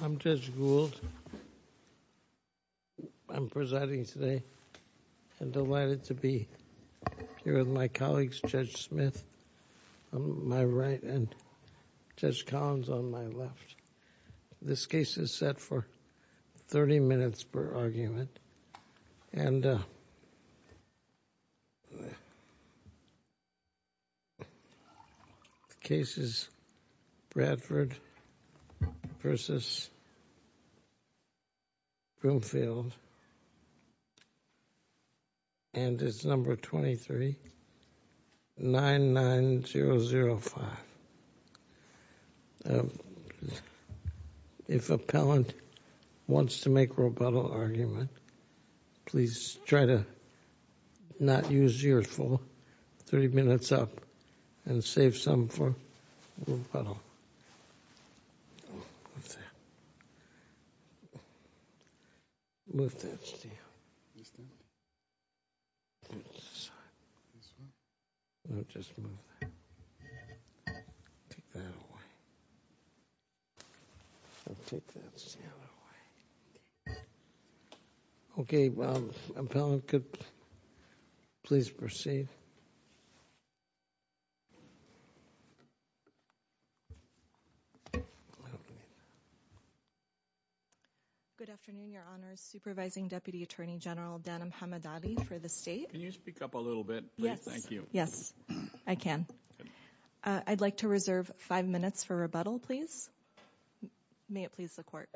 I'm Judge Gould. I'm presiding today and delighted to be here with my colleagues Judge Smith on my right and Judge Collins on my left. This case is set for 30 minutes per argument. And the case is Bradford v. Broomfield and it's number 23-99005. If an appellant wants to make a rebuttal argument, please try to not use yours for 30 minutes up and save some for rebuttal. Take that away. Okay, well, appellant could please proceed. Good afternoon, your honors. Supervising Deputy Attorney General Dan Hamadadi for the state. Can you speak up a little bit? Yes. Thank you. Yes, I can. I'd like to reserve five minutes for rebuttal, please. May it please the court.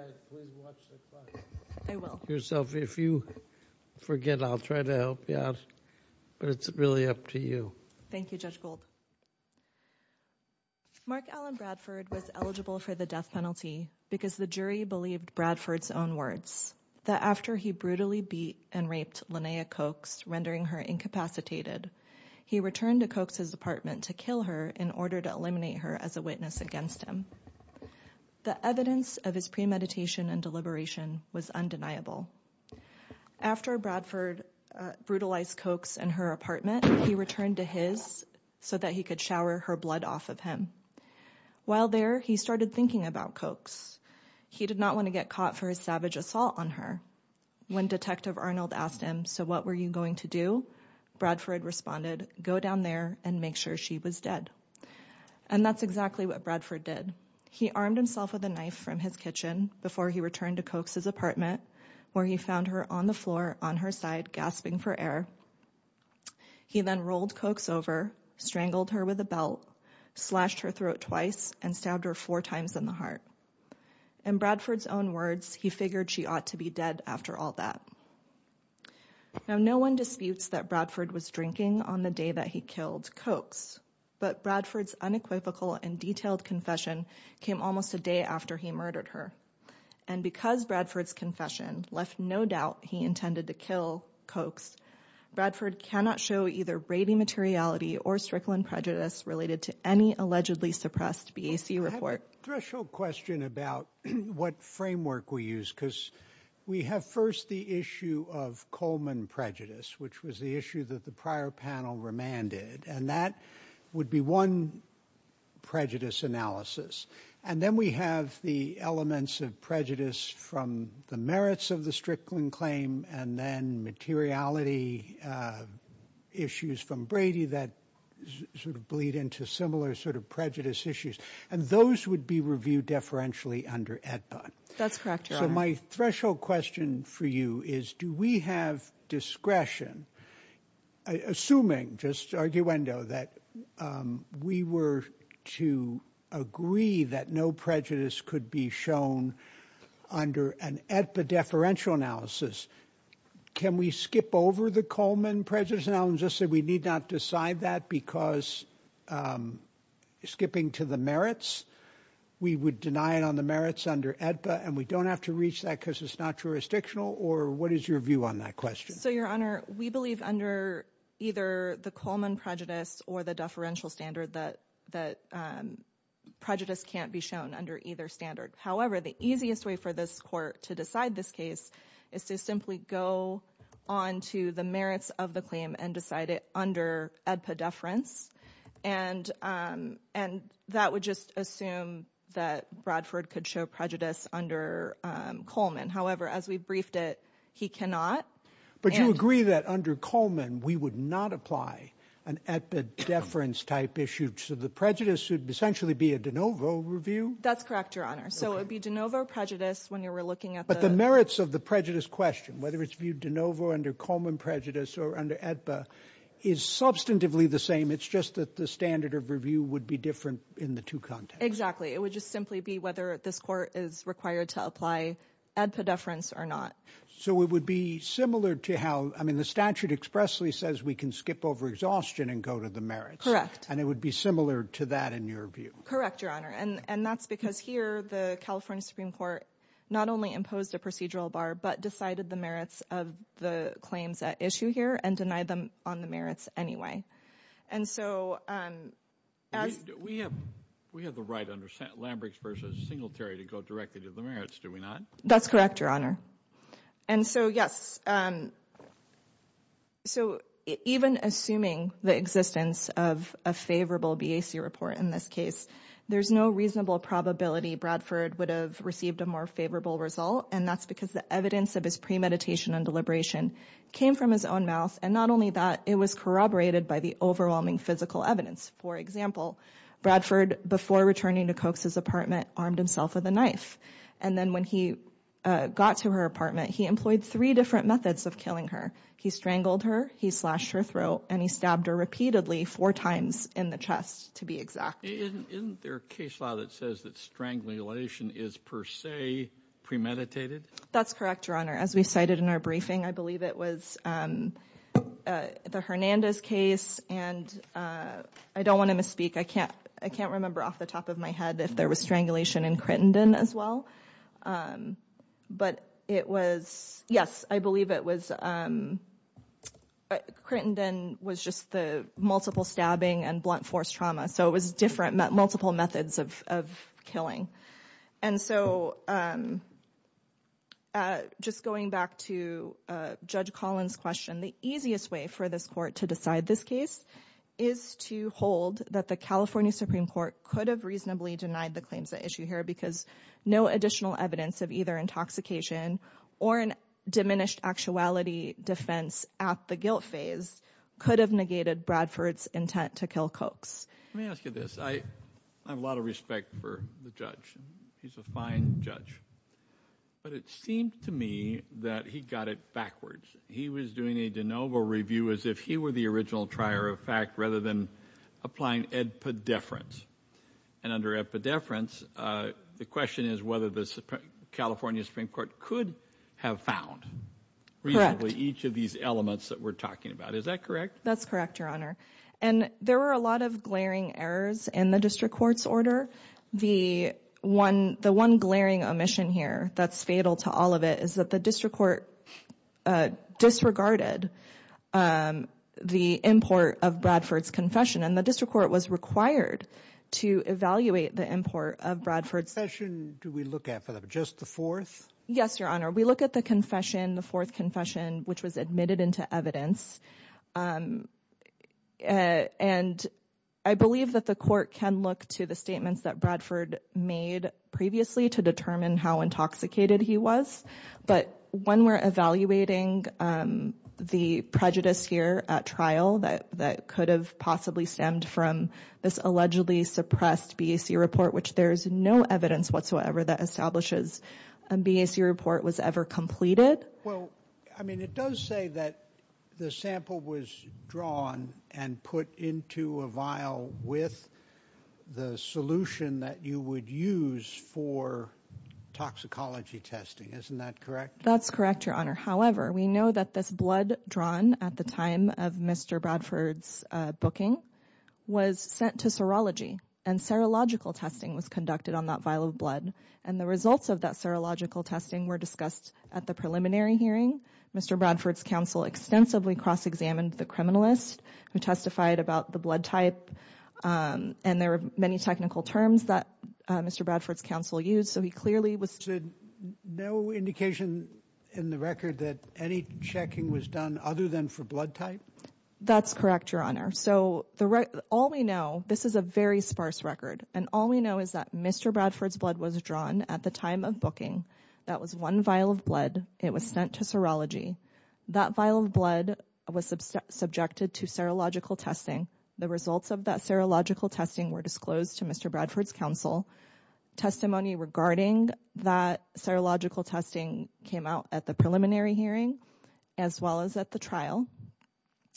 I will. If you forget, I'll try to help you out. But it's really up to you. Thank you, Judge Gould. Mark Allen Bradford was eligible for the death penalty because the jury believed Bradford's own words. That after he brutally beat and raped Linnea Cokes, rendering her incapacitated, he returned to Cokes' apartment to kill her in order to eliminate her as a witness against him. The evidence of his premeditation and deliberation was undeniable. After Bradford brutalized Cokes and her apartment, he returned to his so that he could shower her blood off of him. While there, he started thinking about Cokes. He did not want to get caught for his savage assault on her. When Detective Arnold asked him, so what were you going to do? Bradford responded, go down there and make sure she was dead. And that's exactly what Bradford did. He armed himself with a knife from his kitchen before he returned to Cokes' apartment, where he found her on the floor on her side gasping for air. He then rolled Cokes over, strangled her with a belt, slashed her throat twice and stabbed her four times in the heart. In Bradford's own words, he figured she ought to be dead after all that. Now, no one disputes that Bradford was drinking on the day that he killed Cokes. But Bradford's unequivocal and detailed confession came almost a day after he murdered her. And because Bradford's confession left no doubt he intended to kill Cokes, Bradford cannot show either Brady materiality or Strickland prejudice related to any allegedly suppressed BAC report. Threshold question about what framework we use, because we have first the issue of Coleman prejudice, which was the issue that the prior panel remanded. And that would be one prejudice analysis. And then we have the elements of prejudice from the merits of the Strickland claim and then materiality issues from Brady that sort of bleed into similar sort of prejudice issues. And those would be reviewed deferentially under AEDPA. That's correct, Your Honor. So my threshold question for you is, do we have discretion, assuming just arguendo, that we were to agree that no prejudice could be shown under an AEDPA deferential analysis? Can we skip over the Coleman prejudice analysis and say we need not decide that because skipping to the merits, we would deny it on the merits under AEDPA and we don't have to reach that because it's not jurisdictional? Or what is your view on that question? So, Your Honor, we believe under either the Coleman prejudice or the deferential standard that prejudice can't be shown under either standard. However, the easiest way for this court to decide this case is to simply go on to the merits of the claim and decide it under AEDPA deference. And that would just assume that Bradford could show prejudice under Coleman. However, as we briefed it, he cannot. But you agree that under Coleman, we would not apply an AEDPA deference type issue. So the prejudice would essentially be a de novo review? That's correct, Your Honor. So it would be de novo prejudice when you were looking at the... But the merits of the prejudice question, whether it's viewed de novo under Coleman prejudice or under AEDPA, is substantively the same. It's just that the standard of review would be different in the two contexts. Exactly. It would just simply be whether this court is required to apply AEDPA deference or not. So it would be similar to how, I mean, the statute expressly says we can skip over exhaustion and go to the merits. And it would be similar to that in your view. Correct, Your Honor. And that's because here the California Supreme Court not only imposed a procedural bar, but decided the merits of the claims at issue here and denied them on the merits anyway. And so as... We have the right under Lambricks v. Singletary to go directly to the merits, do we not? That's correct, Your Honor. And so, yes, so even assuming the existence of a favorable BAC report in this case, there's no reasonable probability Bradford would have received a more favorable result. And that's because the evidence of his premeditation and deliberation came from his own mouth. And not only that, it was corroborated by the overwhelming physical evidence. For example, Bradford, before returning to Koch's apartment, armed himself with a knife. And then when he got to her apartment, he employed three different methods of killing her. He strangled her, he slashed her throat, and he stabbed her repeatedly four times in the chest, to be exact. Isn't there a case law that says that strangulation is per se premeditated? That's correct, Your Honor. As we cited in our briefing, I believe it was the Hernandez case. And I don't want to misspeak. I can't remember off the top of my head if there was strangulation in Crittenden as well. But it was, yes, I believe it was Crittenden was just the multiple stabbing and blunt force trauma. So it was different, multiple methods of killing. And so just going back to Judge Collins' question, the easiest way for this court to decide this case is to hold that the California Supreme Court could have reasonably denied the claims at issue here because no additional evidence of either intoxication or a diminished actuality defense at the guilt phase could have negated Bradford's intent to kill Kochs. Let me ask you this. I have a lot of respect for the judge. He's a fine judge. But it seemed to me that he got it backwards. He was doing a de novo review as if he were the original trier of fact rather than applying epidefference. And under epidefference, the question is whether the California Supreme Court could have found reasonably each of these elements that we're talking about. Is that correct? That's correct, Your Honor. And there were a lot of glaring errors in the district court's order. The one glaring omission here that's fatal to all of it is that the district court disregarded the import of Bradford's confession. And the district court was required to evaluate the import of Bradford's confession. Do we look at just the fourth? Yes, Your Honor. We look at the confession, the fourth confession, which was admitted into evidence. And I believe that the court can look to the statements that Bradford made previously to determine how intoxicated he was. But when we're evaluating the prejudice here at trial that could have possibly stemmed from this allegedly suppressed BAC report, which there is no evidence whatsoever that establishes a BAC report was ever completed. Well, I mean, it does say that the sample was drawn and put into a vial with the solution that you would use for toxicology testing. Isn't that correct? That's correct, Your Honor. However, we know that this blood drawn at the time of Mr. Bradford's booking was sent to serology. And serological testing was conducted on that vial of blood. And the results of that serological testing were discussed at the preliminary hearing. Mr. Bradford's counsel extensively cross-examined the criminalist who testified about the blood type. And there were many technical terms that Mr. Bradford's counsel used. So he clearly was... No indication in the record that any checking was done other than for blood type? That's correct, Your Honor. So all we know, this is a very sparse record. And all we know is that Mr. Bradford's blood was drawn at the time of booking. That was one vial of blood. It was sent to serology. That vial of blood was subjected to serological testing. The results of that serological testing were disclosed to Mr. Bradford's counsel. Testimony regarding that serological testing came out at the preliminary hearing as well as at the trial.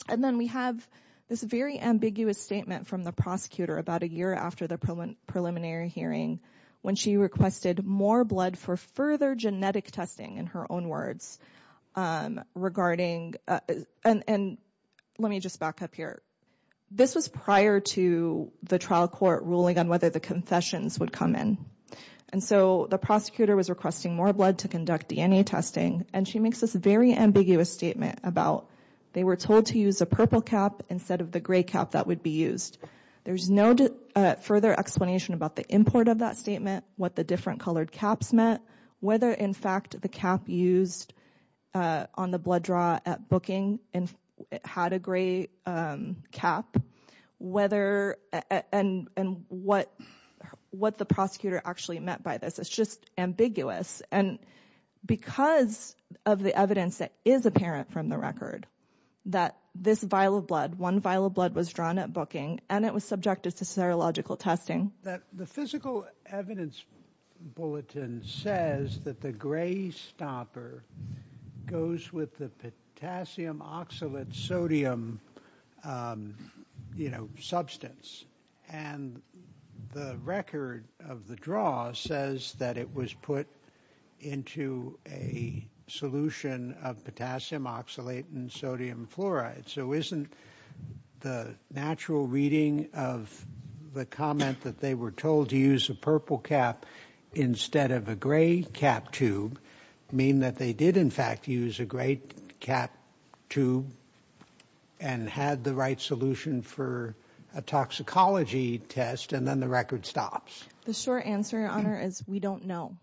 And then we have this very ambiguous statement from the prosecutor about a year after the preliminary hearing when she requested more blood for further genetic testing, in her own words, regarding... And let me just back up here. This was prior to the trial court ruling on whether the confessions would come in. And so the prosecutor was requesting more blood to conduct DNA testing. And she makes this very ambiguous statement about they were told to use a purple cap instead of the gray cap that would be used. There's no further explanation about the import of that statement, what the different colored caps meant, whether, in fact, the cap used on the blood draw at booking had a gray cap, and what the prosecutor actually meant by this. It's just ambiguous. And because of the evidence that is apparent from the record, that this vial of blood, one vial of blood was drawn at booking, and it was subjected to serological testing. The physical evidence bulletin says that the gray stopper goes with the potassium oxalate sodium, you know, substance. And the record of the draw says that it was put into a solution of potassium oxalate and sodium fluoride. So isn't the natural reading of the comment that they were told to use a purple cap instead of a gray cap tube mean that they did, in fact, use a gray cap tube and had the right solution for a toxicology test, and then the record stops? The short answer, Your Honor, is we don't know.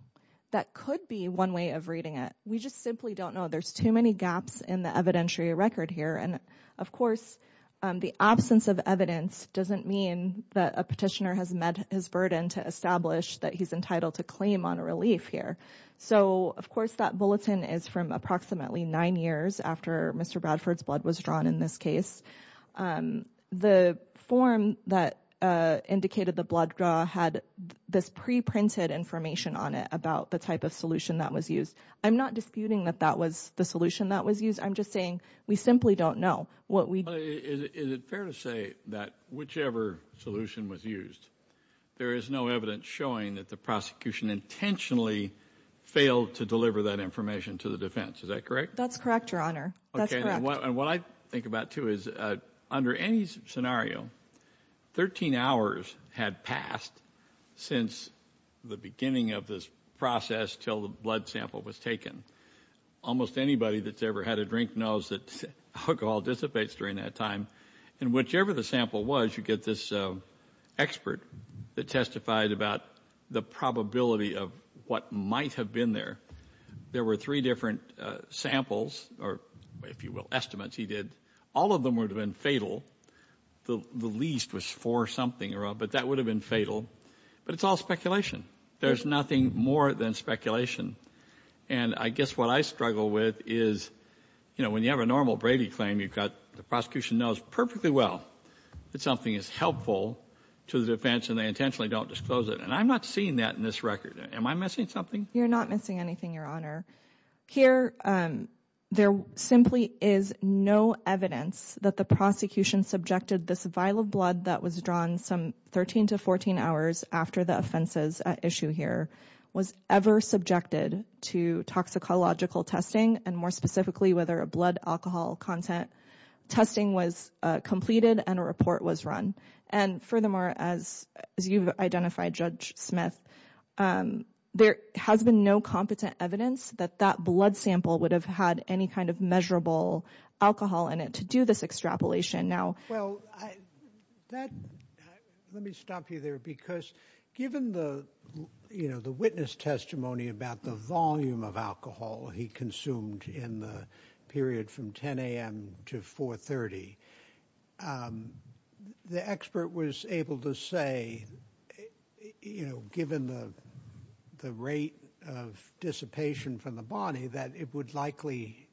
That could be one way of reading it. We just simply don't know. There's too many gaps in the evidentiary record here. And, of course, the absence of evidence doesn't mean that a petitioner has met his burden to establish that he's entitled to claim on a relief here. So, of course, that bulletin is from approximately nine years after Mr. Bradford's blood was drawn in this case. The form that indicated the blood draw had this preprinted information on it about the type of solution that was used. I'm not disputing that that was the solution that was used. I'm just saying we simply don't know. Is it fair to say that whichever solution was used, there is no evidence showing that the prosecution intentionally failed to deliver that information to the defense? Is that correct? That's correct, Your Honor. That's correct. And what I think about, too, is under any scenario, 13 hours had passed since the beginning of this process until the blood sample was taken. Almost anybody that's ever had a drink knows that alcohol dissipates during that time. And whichever the sample was, you get this expert that testified about the probability of what might have been there. There were three different samples or, if you will, estimates he did. All of them would have been fatal. The least was four-something, but that would have been fatal. But it's all speculation. There's nothing more than speculation. And I guess what I struggle with is, you know, when you have a normal Brady claim, the prosecution knows perfectly well that something is helpful to the defense and they intentionally don't disclose it. And I'm not seeing that in this record. Am I missing something? You're not missing anything, Your Honor. Here, there simply is no evidence that the prosecution subjected this vial of blood that was drawn some 13 to 14 hours after the offense's issue here was ever subjected to toxicological testing and, more specifically, whether a blood alcohol content testing was completed and a report was run. And furthermore, as you've identified, Judge Smith, there has been no competent evidence that that blood sample would have had any kind of measurable alcohol in it to do this extrapolation. Well, let me stop you there, because given the witness testimony about the volume of alcohol he consumed in the period from 10 a.m. to 4.30, the expert was able to say, you know, given the rate of dissipation from the body, that it would likely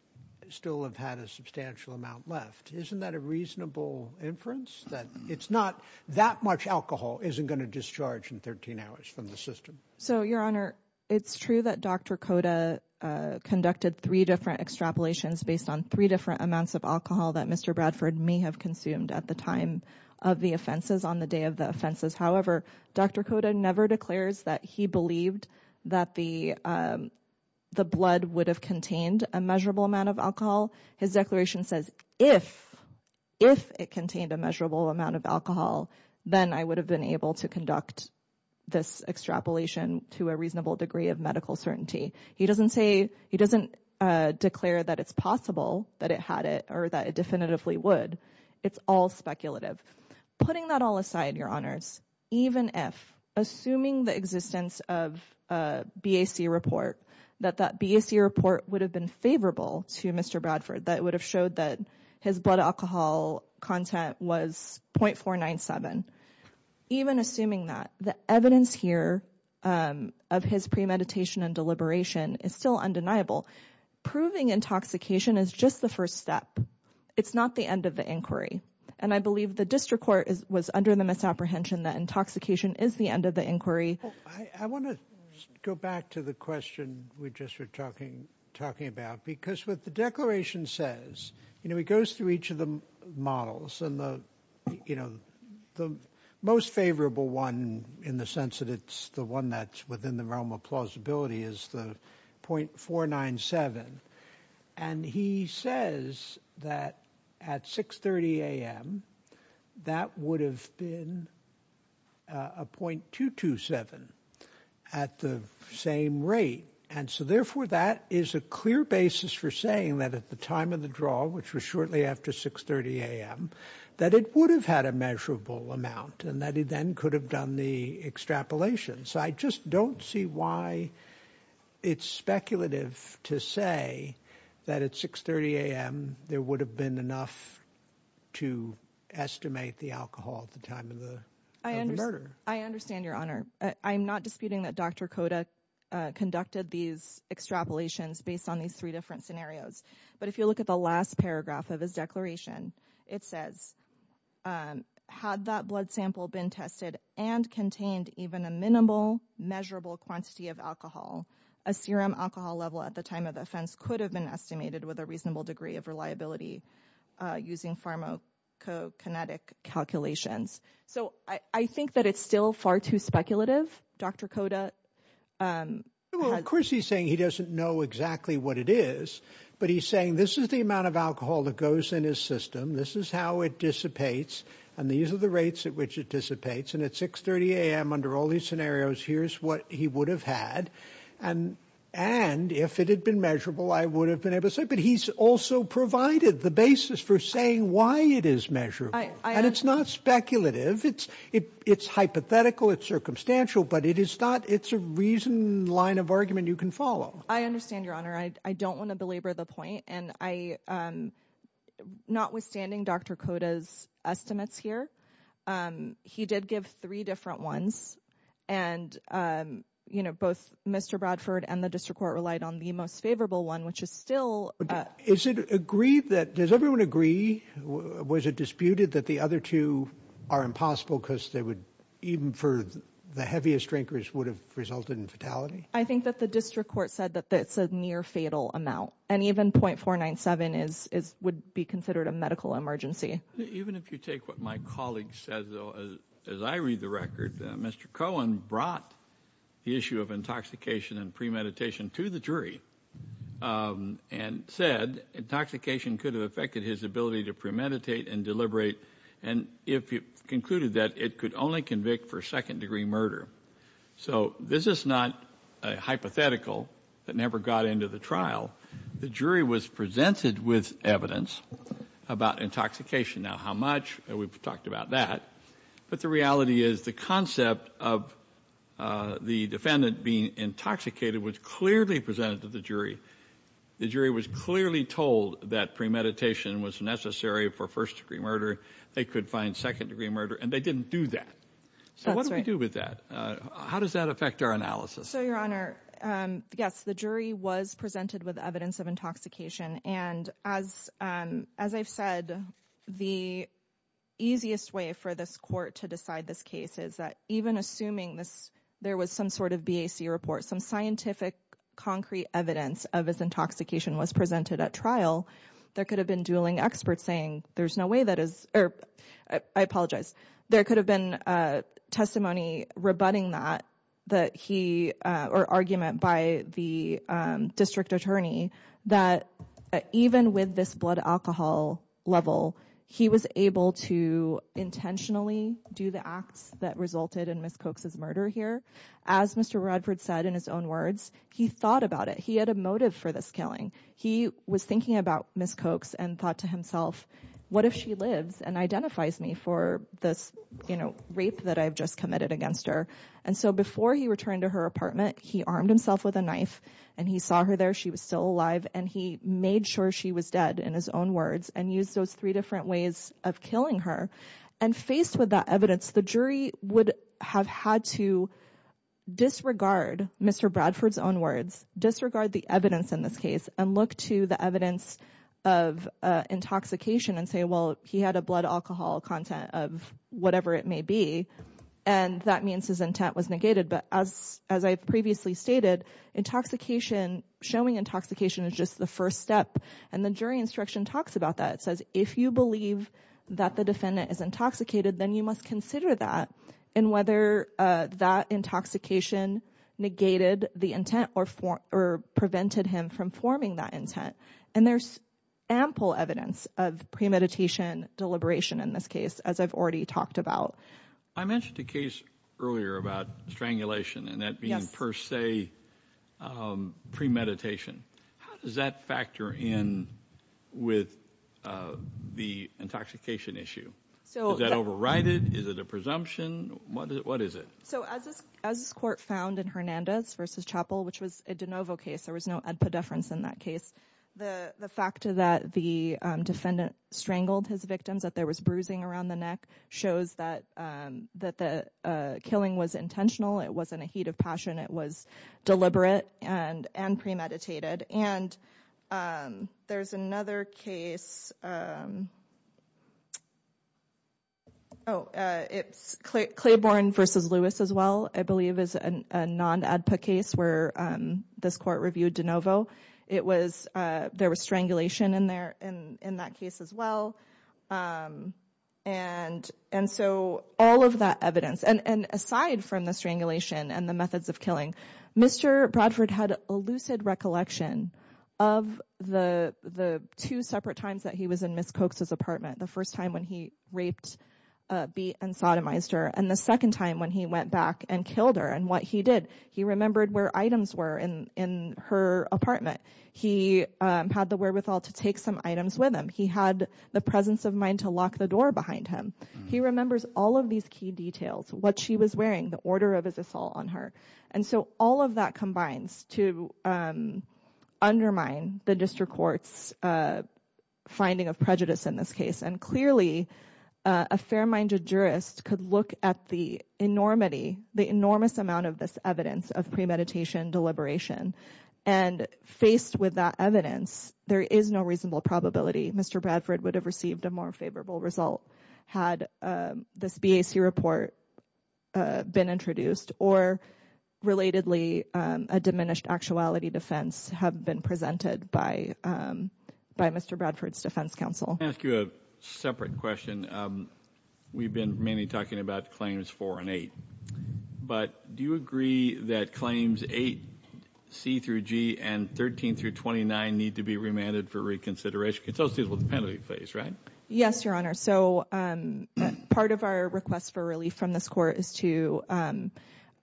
still have had a substantial amount left. Isn't that a reasonable inference that it's not that much alcohol isn't going to discharge in 13 hours from the system? So, Your Honor, it's true that Dr. Koda conducted three different extrapolations based on three different amounts of alcohol that Mr. Bradford may have consumed at the time of the offenses on the day of the offenses. However, Dr. Koda never declares that he believed that the blood would have contained a measurable amount of alcohol. His declaration says, if, if it contained a measurable amount of alcohol, then I would have been able to conduct this extrapolation to a reasonable degree of medical certainty. He doesn't say he doesn't declare that it's possible that it had it or that it definitively would. It's all speculative. Putting that all aside, Your Honors, even if, assuming the existence of a BAC report, that that BAC report would have been favorable to Mr. Bradford, that would have showed that his blood alcohol content was 0.497. Even assuming that, the evidence here of his premeditation and deliberation is still undeniable. Proving intoxication is just the first step. It's not the end of the inquiry. And I believe the district court was under the misapprehension that intoxication is the end of the inquiry. I want to go back to the question we just were talking, talking about, because what the declaration says, you know, it goes through each of the models and the, you know, the most favorable one in the sense that it's the one that's within the realm of plausibility is the 0.497. And he says that at 630 a.m., that would have been a 0.227 at the same rate. And so, therefore, that is a clear basis for saying that at the time of the draw, which was shortly after 630 a.m., that it would have had a measurable amount and that he then could have done the extrapolation. So I just don't see why it's speculative to say that at 630 a.m. there would have been enough to estimate the alcohol at the time of the murder. I understand, Your Honor. I'm not disputing that Dr. Koda conducted these extrapolations based on these three different scenarios. But if you look at the last paragraph of his declaration, it says, had that blood sample been tested and contained even a minimal measurable quantity of alcohol, a serum alcohol level at the time of the offense could have been estimated with a reasonable degree of reliability using pharmacokinetic calculations. So I think that it's still far too speculative. Dr. Koda. Well, of course, he's saying he doesn't know exactly what it is, but he's saying this is the amount of alcohol that goes in his system. This is how it dissipates. And these are the rates at which it dissipates. And at 630 a.m. under all these scenarios, here's what he would have had. And and if it had been measurable, I would have been able to say. But he's also provided the basis for saying why it is measured. And it's not speculative. It's it's hypothetical. It's circumstantial. But it is not. It's a reason line of argument you can follow. I understand, Your Honor. I don't want to belabor the point. And I notwithstanding Dr. Koda's estimates here, he did give three different ones. And, you know, both Mr. Bradford and the district court relied on the most favorable one, which is still. Is it agreed that does everyone agree? Was it disputed that the other two are impossible because they would even for the heaviest drinkers would have resulted in fatality? I think that the district court said that that's a near fatal amount. And even point four nine seven is is would be considered a medical emergency. Even if you take what my colleague says, though, as I read the record, Mr. Cohen brought the issue of intoxication and premeditation to the jury and said intoxication could have affected his ability to premeditate and deliberate. And if you concluded that it could only convict for second degree murder. So this is not a hypothetical that never got into the trial. The jury was presented with evidence about intoxication. Now, how much we've talked about that. But the reality is the concept of the defendant being intoxicated was clearly presented to the jury. The jury was clearly told that premeditation was necessary for first degree murder. They could find second degree murder and they didn't do that. So what do we do with that? How does that affect our analysis? So, Your Honor. Yes, the jury was presented with evidence of intoxication. And as as I've said, the easiest way for this court to decide this case is that even assuming this, there was some sort of BAC report, some scientific concrete evidence of his intoxication was presented at trial. There could have been dueling experts saying there's no way that is. I apologize. There could have been testimony rebutting that that he or argument by the district attorney that even with this blood alcohol level, he was able to intentionally do the acts that resulted in Miss Cox's murder here. As Mr. Radford said in his own words, he thought about it. He had a motive for this killing. He was thinking about Miss Cox and thought to himself, what if she lives and identifies me for this rape that I've just committed against her? And so before he returned to her apartment, he armed himself with a knife and he saw her there. She was still alive and he made sure she was dead in his own words and used those three different ways of killing her. And faced with that evidence, the jury would have had to disregard Mr. Bradford's own words, disregard the evidence in this case and look to the evidence of intoxication and say, well, he had a blood alcohol content of whatever it may be. And that means his intent was negated. But as as I've previously stated, intoxication, showing intoxication is just the first step. And the jury instruction talks about that. It says, if you believe that the defendant is intoxicated, then you must consider that and whether that intoxication negated the intent or four or prevented him from forming that intent. And there's ample evidence of premeditation deliberation in this case, as I've already talked about. I mentioned a case earlier about strangulation and that being per se premeditation. How does that factor in with the intoxication issue? So is that overrided? Is it a presumption? What is it? So as as court found in Hernandez versus Chapel, which was a de novo case, there was no difference in that case. The fact that the defendant strangled his victims, that there was bruising around the neck shows that that the killing was intentional. It wasn't a heat of passion. It was deliberate and and premeditated. And there's another case. Oh, it's clear. Claiborne versus Lewis as well, I believe, is a non ad hoc case where this court reviewed de novo. It was there was strangulation in there and in that case as well. And and so all of that evidence and aside from the strangulation and the methods of killing Mr. Bradford had a lucid recollection of the the two separate times that he was in Miss Cox's apartment. The first time when he raped, beat and sodomized her. And the second time when he went back and killed her and what he did, he remembered where items were in her apartment. He had the wherewithal to take some items with him. He had the presence of mind to lock the door behind him. He remembers all of these key details, what she was wearing, the order of his assault on her. And so all of that combines to undermine the district court's finding of prejudice in this case. And clearly, a fair minded jurist could look at the enormity, the enormous amount of this evidence of premeditation, deliberation and faced with that evidence, there is no reasonable probability. Mr. Bradford would have received a more favorable result had this BAC report been introduced or relatedly, a diminished actuality defense have been presented by by Mr. Bradford's defense counsel. Ask you a separate question. We've been mainly talking about claims for an eight. But do you agree that claims eight C through G and 13 through 29 need to be remanded for reconsideration? It's also the penalty phase, right? Yes, Your Honor. So part of our request for relief from this court is to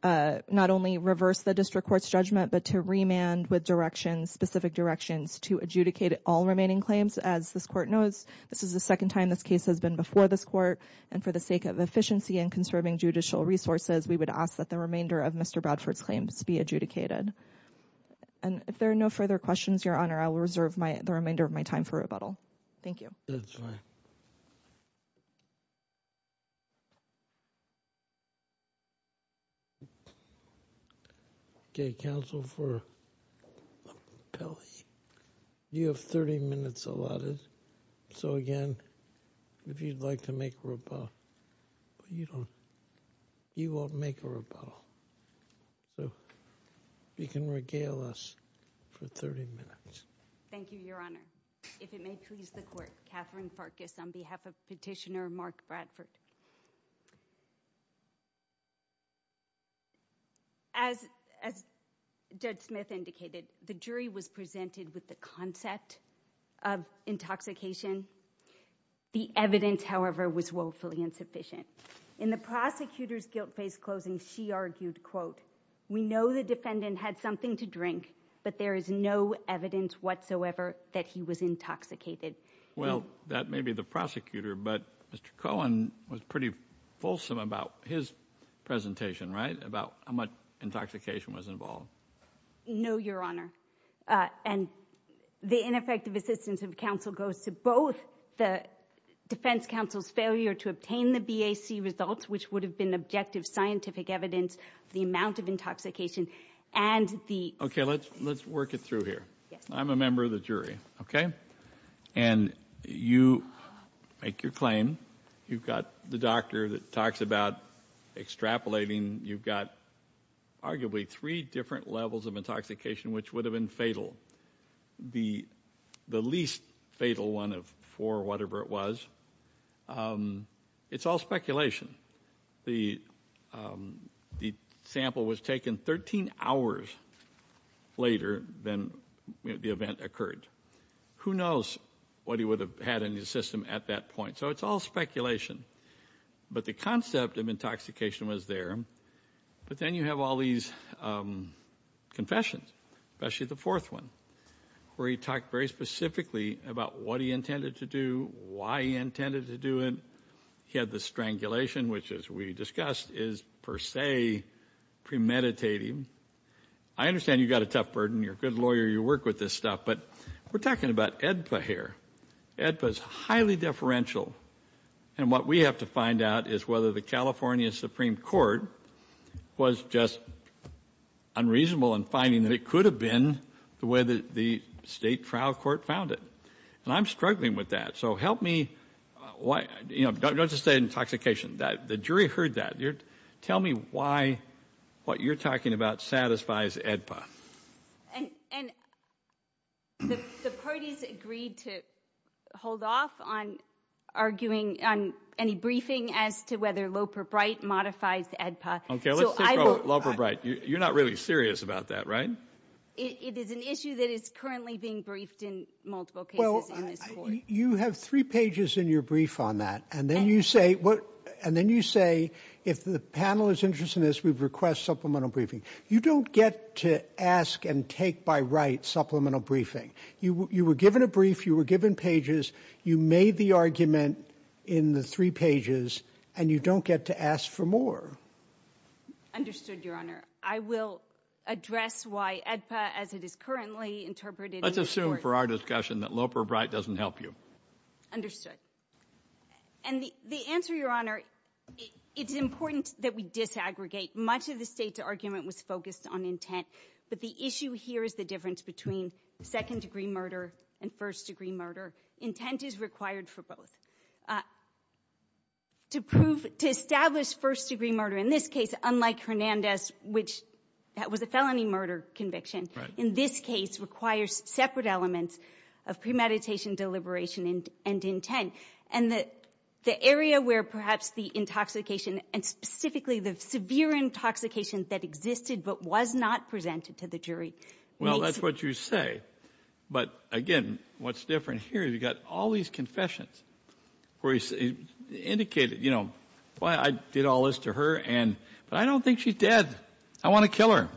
not only reverse the district court's judgment, but to remand with directions, specific directions to adjudicate all remaining claims. As this court knows, this is the second time this case has been before this court. And for the sake of efficiency and conserving judicial resources, we would ask that the remainder of Mr. Bradford's claims be adjudicated. And if there are no further questions, Your Honor, I will reserve my the remainder of my time for rebuttal. Thank you. That's right. Counsel for you have 30 minutes allotted. So, again, if you'd like to make a rebuttal, you don't you won't make a rebuttal. So you can regale us for 30 minutes. Thank you, Your Honor. If it may please the court, Katherine Farkas on behalf of petitioner Mark Bradford. As Judge Smith indicated, the jury was presented with the concept of intoxication. The evidence, however, was woefully insufficient. In the prosecutor's guilt-based closing, she argued, quote, We know the defendant had something to drink, but there is no evidence whatsoever that he was intoxicated. Well, that may be the prosecutor. But Mr. Cohen was pretty fulsome about his presentation, right? About how much intoxication was involved. No, Your Honor. And the ineffective assistance of counsel goes to both the defense counsel's failure to obtain the BAC results, which would have been objective scientific evidence, the amount of intoxication and the. OK, let's let's work it through here. I'm a member of the jury. OK, and you make your claim. You've got the doctor that talks about extrapolating. You've got arguably three different levels of intoxication, which would have been fatal. The the least fatal one of four, whatever it was. It's all speculation. The the sample was taken 13 hours later than the event occurred. Who knows what he would have had in his system at that point? So it's all speculation. But the concept of intoxication was there. But then you have all these confessions, especially the fourth one, where he talked very specifically about what he intended to do, why he intended to do it. He had the strangulation, which, as we discussed, is, per se, premeditating. I understand you've got a tough burden. You're a good lawyer. You work with this stuff. But we're talking about AEDPA here. AEDPA is highly deferential. And what we have to find out is whether the California Supreme Court was just unreasonable in finding that it could have been the way that the state trial court found it. And I'm struggling with that. So help me. You know, don't just say intoxication. The jury heard that. Tell me why what you're talking about satisfies AEDPA. And the parties agreed to hold off on arguing on any briefing as to whether Loper-Bright modifies AEDPA. Okay, let's take Loper-Bright. You're not really serious about that, right? It is an issue that is currently being briefed in multiple cases in this court. You have three pages in your brief on that. And then you say, if the panel is interested in this, we request supplemental briefing. You don't get to ask and take by right supplemental briefing. You were given a brief. You were given pages. You made the argument in the three pages. And you don't get to ask for more. Understood, Your Honor. I will address why AEDPA, as it is currently interpreted in this court. Let's assume for our discussion that Loper-Bright doesn't help you. And the answer, Your Honor, it's important that we disaggregate. Much of the state's argument was focused on intent. But the issue here is the difference between second-degree murder and first-degree murder. Intent is required for both. To prove to establish first-degree murder in this case, unlike Hernandez, which that was a felony murder conviction. In this case requires separate elements of premeditation, deliberation, and intent. And the area where perhaps the intoxication and specifically the severe intoxication that existed but was not presented to the jury. Well, that's what you say. But, again, what's different here is you've got all these confessions. Where he indicated, you know, well, I did all this to her. But I don't think she's dead. I want to kill her.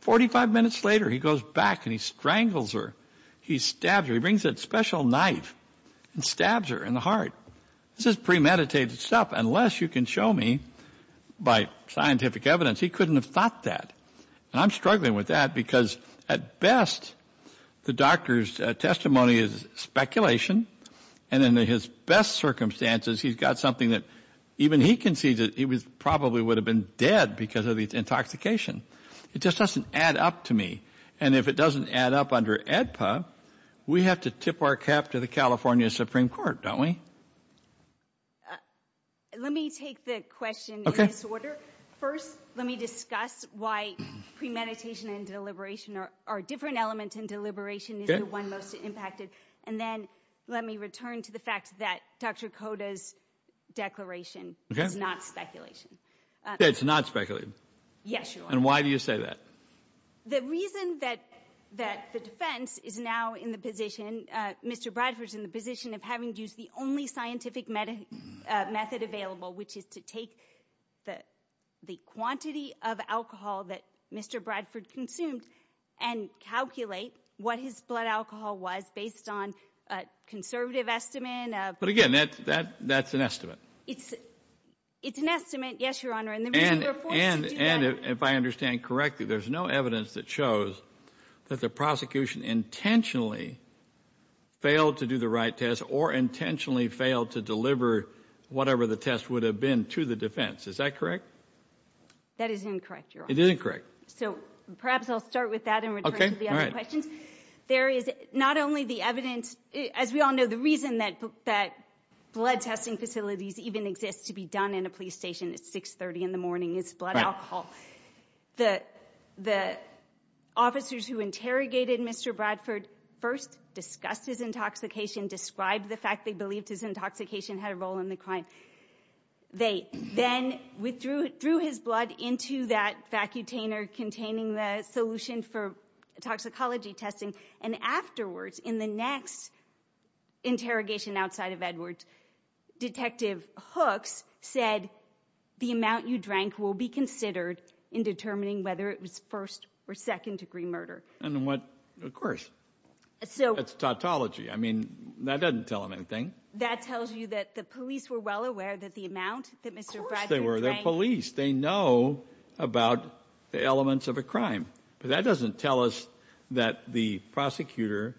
Forty-five minutes later, he goes back and he strangles her. He stabs her. He brings that special knife and stabs her in the heart. This is premeditated stuff. Unless you can show me by scientific evidence, he couldn't have thought that. And I'm struggling with that because, at best, the doctor's testimony is speculation. And in his best circumstances, he's got something that even he concedes that he probably would have been dead because of the intoxication. It just doesn't add up to me. And if it doesn't add up under AEDPA, we have to tip our cap to the California Supreme Court, don't we? Let me take the question in this order. First, let me discuss why premeditation and deliberation are different elements and deliberation is the one most impacted. And then let me return to the fact that Dr. Cota's declaration is not speculation. It's not speculation? Yes, Your Honor. And why do you say that? The reason that the defense is now in the position, Mr. Bradford's in the position, of having used the only scientific method available, which is to take the quantity of alcohol that Mr. Bradford consumed and calculate what his blood alcohol was based on a conservative estimate. But again, that's an estimate. It's an estimate, yes, Your Honor. And if I understand correctly, there's no evidence that shows that the prosecution intentionally failed to do the right test or intentionally failed to deliver whatever the test would have been to the defense. Is that correct? That is incorrect, Your Honor. It is incorrect. So perhaps I'll start with that in return for the other questions. There is not only the evidence. As we all know, the reason that blood testing facilities even exist to be done in a police station at 6.30 in the morning is blood alcohol. The officers who interrogated Mr. Bradford first discussed his intoxication, described the fact they believed his intoxication had a role in the crime. They then threw his blood into that vacutainer containing the solution for toxicology testing. And afterwards, in the next interrogation outside of Edwards, Detective Hooks said the amount you drank will be considered in determining whether it was first- or second-degree murder. And what? Of course. That's tautology. I mean, that doesn't tell him anything. That tells you that the police were well aware that the amount that Mr. Bradford drank. Of course they were. They're police. They know about the elements of a crime. But that doesn't tell us that the prosecutor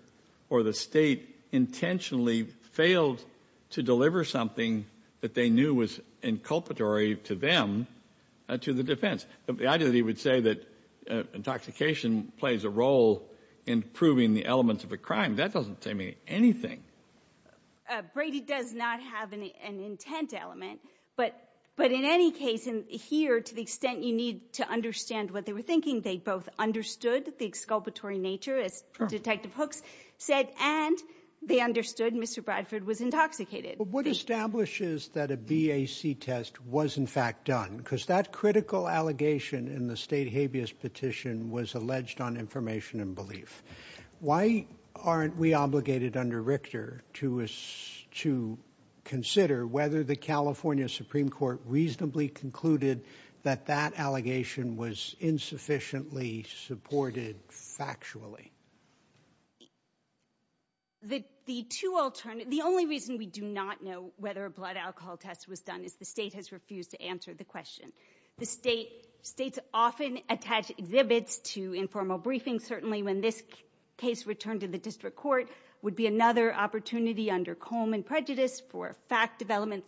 or the state intentionally failed to deliver something that they knew was inculpatory to them to the defense. The idea that he would say that intoxication plays a role in proving the elements of a crime, that doesn't tell me anything. Brady does not have an intent element. But in any case, here, to the extent you need to understand what they were thinking, they both understood the exculpatory nature, as Detective Hooks said, and they understood Mr. Bradford was intoxicated. But what establishes that a BAC test was, in fact, done? Because that critical allegation in the state habeas petition was alleged on information and belief. Why aren't we obligated under Richter to consider whether the California Supreme Court reasonably concluded that that allegation was insufficiently supported factually? The only reason we do not know whether a blood alcohol test was done is the state has refused to answer the question. States often attach exhibits to informal briefings. Certainly when this case returned to the district court, it would be another opportunity under Coleman prejudice for fact development.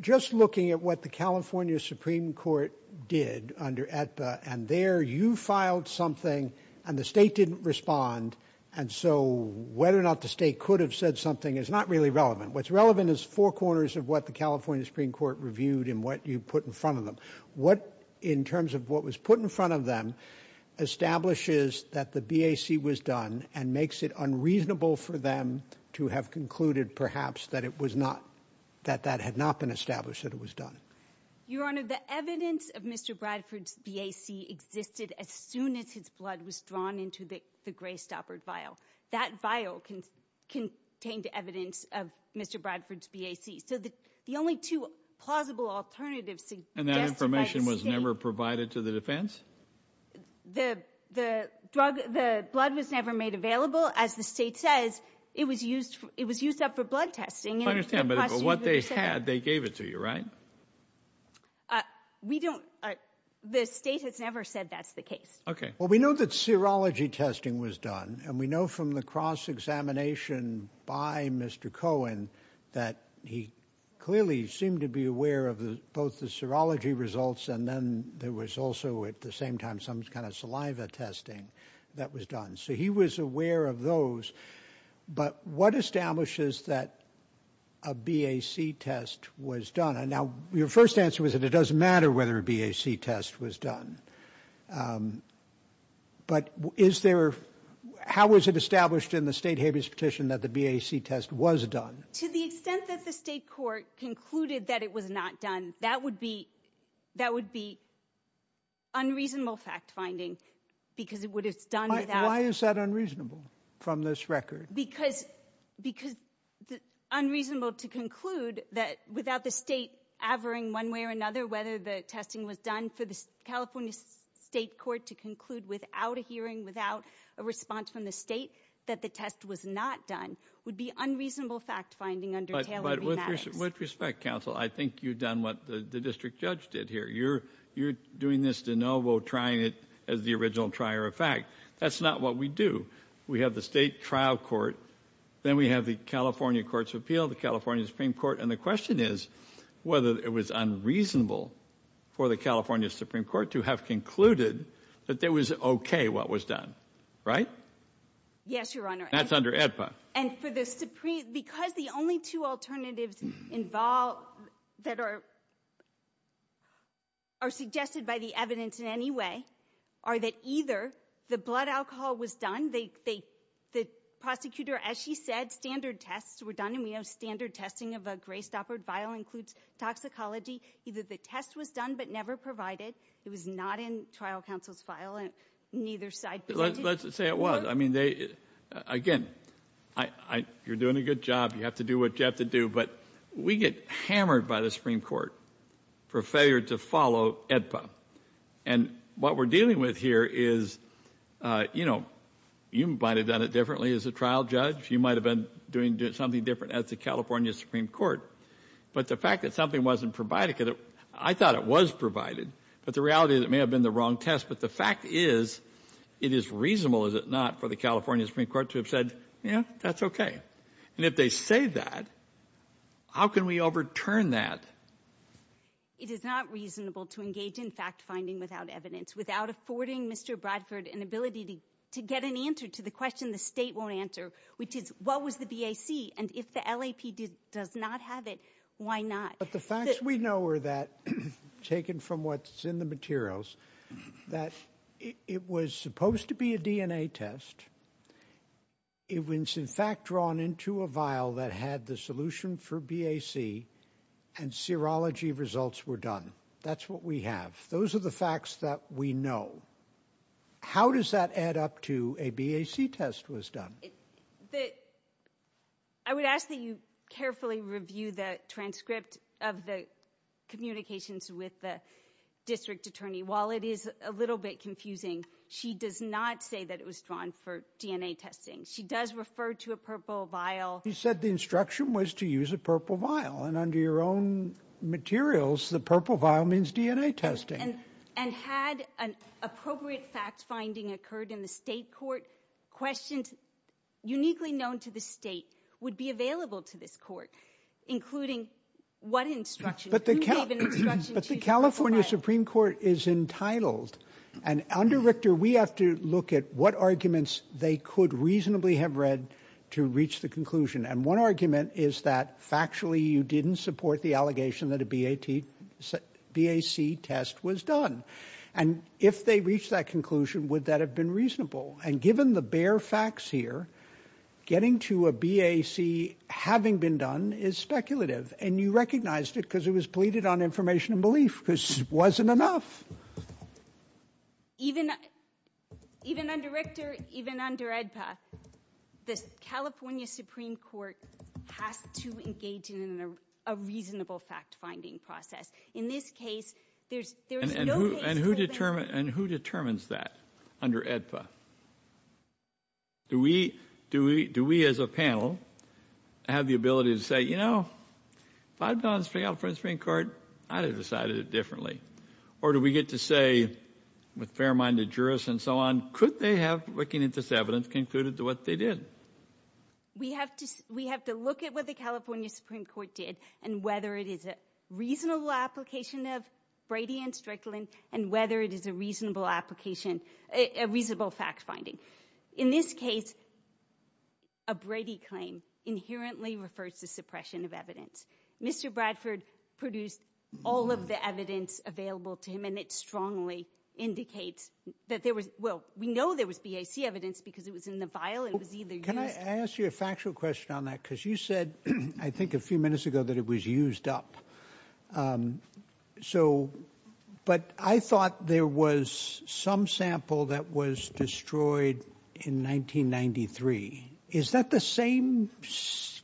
Just looking at what the California Supreme Court did under AEDPA, and there you filed something and the state didn't respond, and so whether or not the state could have said something is not really relevant. What's relevant is four corners of what the California Supreme Court reviewed and what you put in front of them. What, in terms of what was put in front of them, establishes that the BAC was done and makes it unreasonable for them to have concluded, perhaps, that it was not, that that had not been established that it was done? Your Honor, the evidence of Mr. Bradford's BAC existed as soon as his blood was drawn into the Greystopper vial. That vial contained evidence of Mr. Bradford's BAC. So the only two plausible alternatives suggested by the state— And that information was never provided to the defense? The blood was never made available. As the state says, it was used up for blood testing. I understand, but what they had, they gave it to you, right? We don't—the state has never said that's the case. Okay. Well, we know that serology testing was done, and we know from the cross-examination by Mr. Cohen that he clearly seemed to be aware of both the serology results and then there was also at the same time some kind of saliva testing that was done. So he was aware of those. But what establishes that a BAC test was done? Now, your first answer was that it doesn't matter whether a BAC test was done. But is there—how was it established in the state habeas petition that the BAC test was done? To the extent that the state court concluded that it was not done, that would be unreasonable fact-finding because it would have done without— Why is that unreasonable from this record? Because unreasonable to conclude that without the state averring one way or another whether the testing was done for the California state court to conclude without a hearing, without a response from the state, that the test was not done would be unreasonable fact-finding under Taylor v. Maddox. But with respect, counsel, I think you've done what the district judge did here. You're doing this de novo, trying it as the original trier of fact. That's not what we do. We have the state trial court. Then we have the California Courts of Appeal, the California Supreme Court. And the question is whether it was unreasonable for the California Supreme Court to have concluded that it was okay what was done, right? Yes, Your Honor. That's under AEDPA. And because the only two alternatives that are suggested by the evidence in any way are that either the blood alcohol was done, the prosecutor, as she said, standard tests were done, and we know standard testing of a gray-stoppered vial includes toxicology. Either the test was done but never provided. It was not in trial counsel's vial, and neither side believed it. Let's say it was. I mean, again, you're doing a good job. You have to do what you have to do. But we get hammered by the Supreme Court for failure to follow AEDPA. And what we're dealing with here is, you know, you might have done it differently as a trial judge. You might have been doing something different as the California Supreme Court. But the fact that something wasn't provided, because I thought it was provided, but the reality is it may have been the wrong test. But the fact is it is reasonable, is it not, for the California Supreme Court to have said, yeah, that's okay. And if they say that, how can we overturn that? It is not reasonable to engage in fact-finding without evidence, without affording Mr. Bradford an ability to get an answer to the question the state won't answer, which is what was the BAC, and if the LAP does not have it, why not? But the facts we know are that, taken from what's in the materials, that it was supposed to be a DNA test. It was, in fact, drawn into a vial that had the solution for BAC, and serology results were done. That's what we have. Those are the facts that we know. How does that add up to a BAC test was done? I would ask that you carefully review the transcript of the communications with the district attorney. While it is a little bit confusing, she does not say that it was drawn for DNA testing. She does refer to a purple vial. She said the instruction was to use a purple vial, and under your own materials, the purple vial means DNA testing. And had an appropriate fact-finding occurred in the state court, questions uniquely known to the state would be available to this court, including what instruction. Who gave an instruction to use a purple vial? But the California Supreme Court is entitled, and under Richter, we have to look at what arguments they could reasonably have read to reach the conclusion, and one argument is that factually you didn't support the allegation that a BAC test was done. And if they reached that conclusion, would that have been reasonable? And given the bare facts here, getting to a BAC having been done is speculative, and you recognized it because it was pleaded on information and belief because it wasn't enough. Even under Richter, even under AEDPA, the California Supreme Court has to engage in a reasonable fact-finding process. In this case, there's no case where there's... And who determines that under AEDPA? Do we as a panel have the ability to say, you know, if I had gone to the California Supreme Court, I would have decided it differently. Or do we get to say, with fair-minded jurists and so on, could they have, looking at this evidence, concluded to what they did? We have to look at what the California Supreme Court did and whether it is a reasonable application of Brady and Strickland and whether it is a reasonable application, a reasonable fact-finding. In this case, a Brady claim inherently refers to suppression of evidence. Mr. Bradford produced all of the evidence available to him, and it strongly indicates that there was... Well, we know there was BAC evidence because it was in the vial. It was either used... Can I ask you a factual question on that? Because you said, I think, a few minutes ago that it was used up. So... But I thought there was some sample that was destroyed in 1993. Is that the same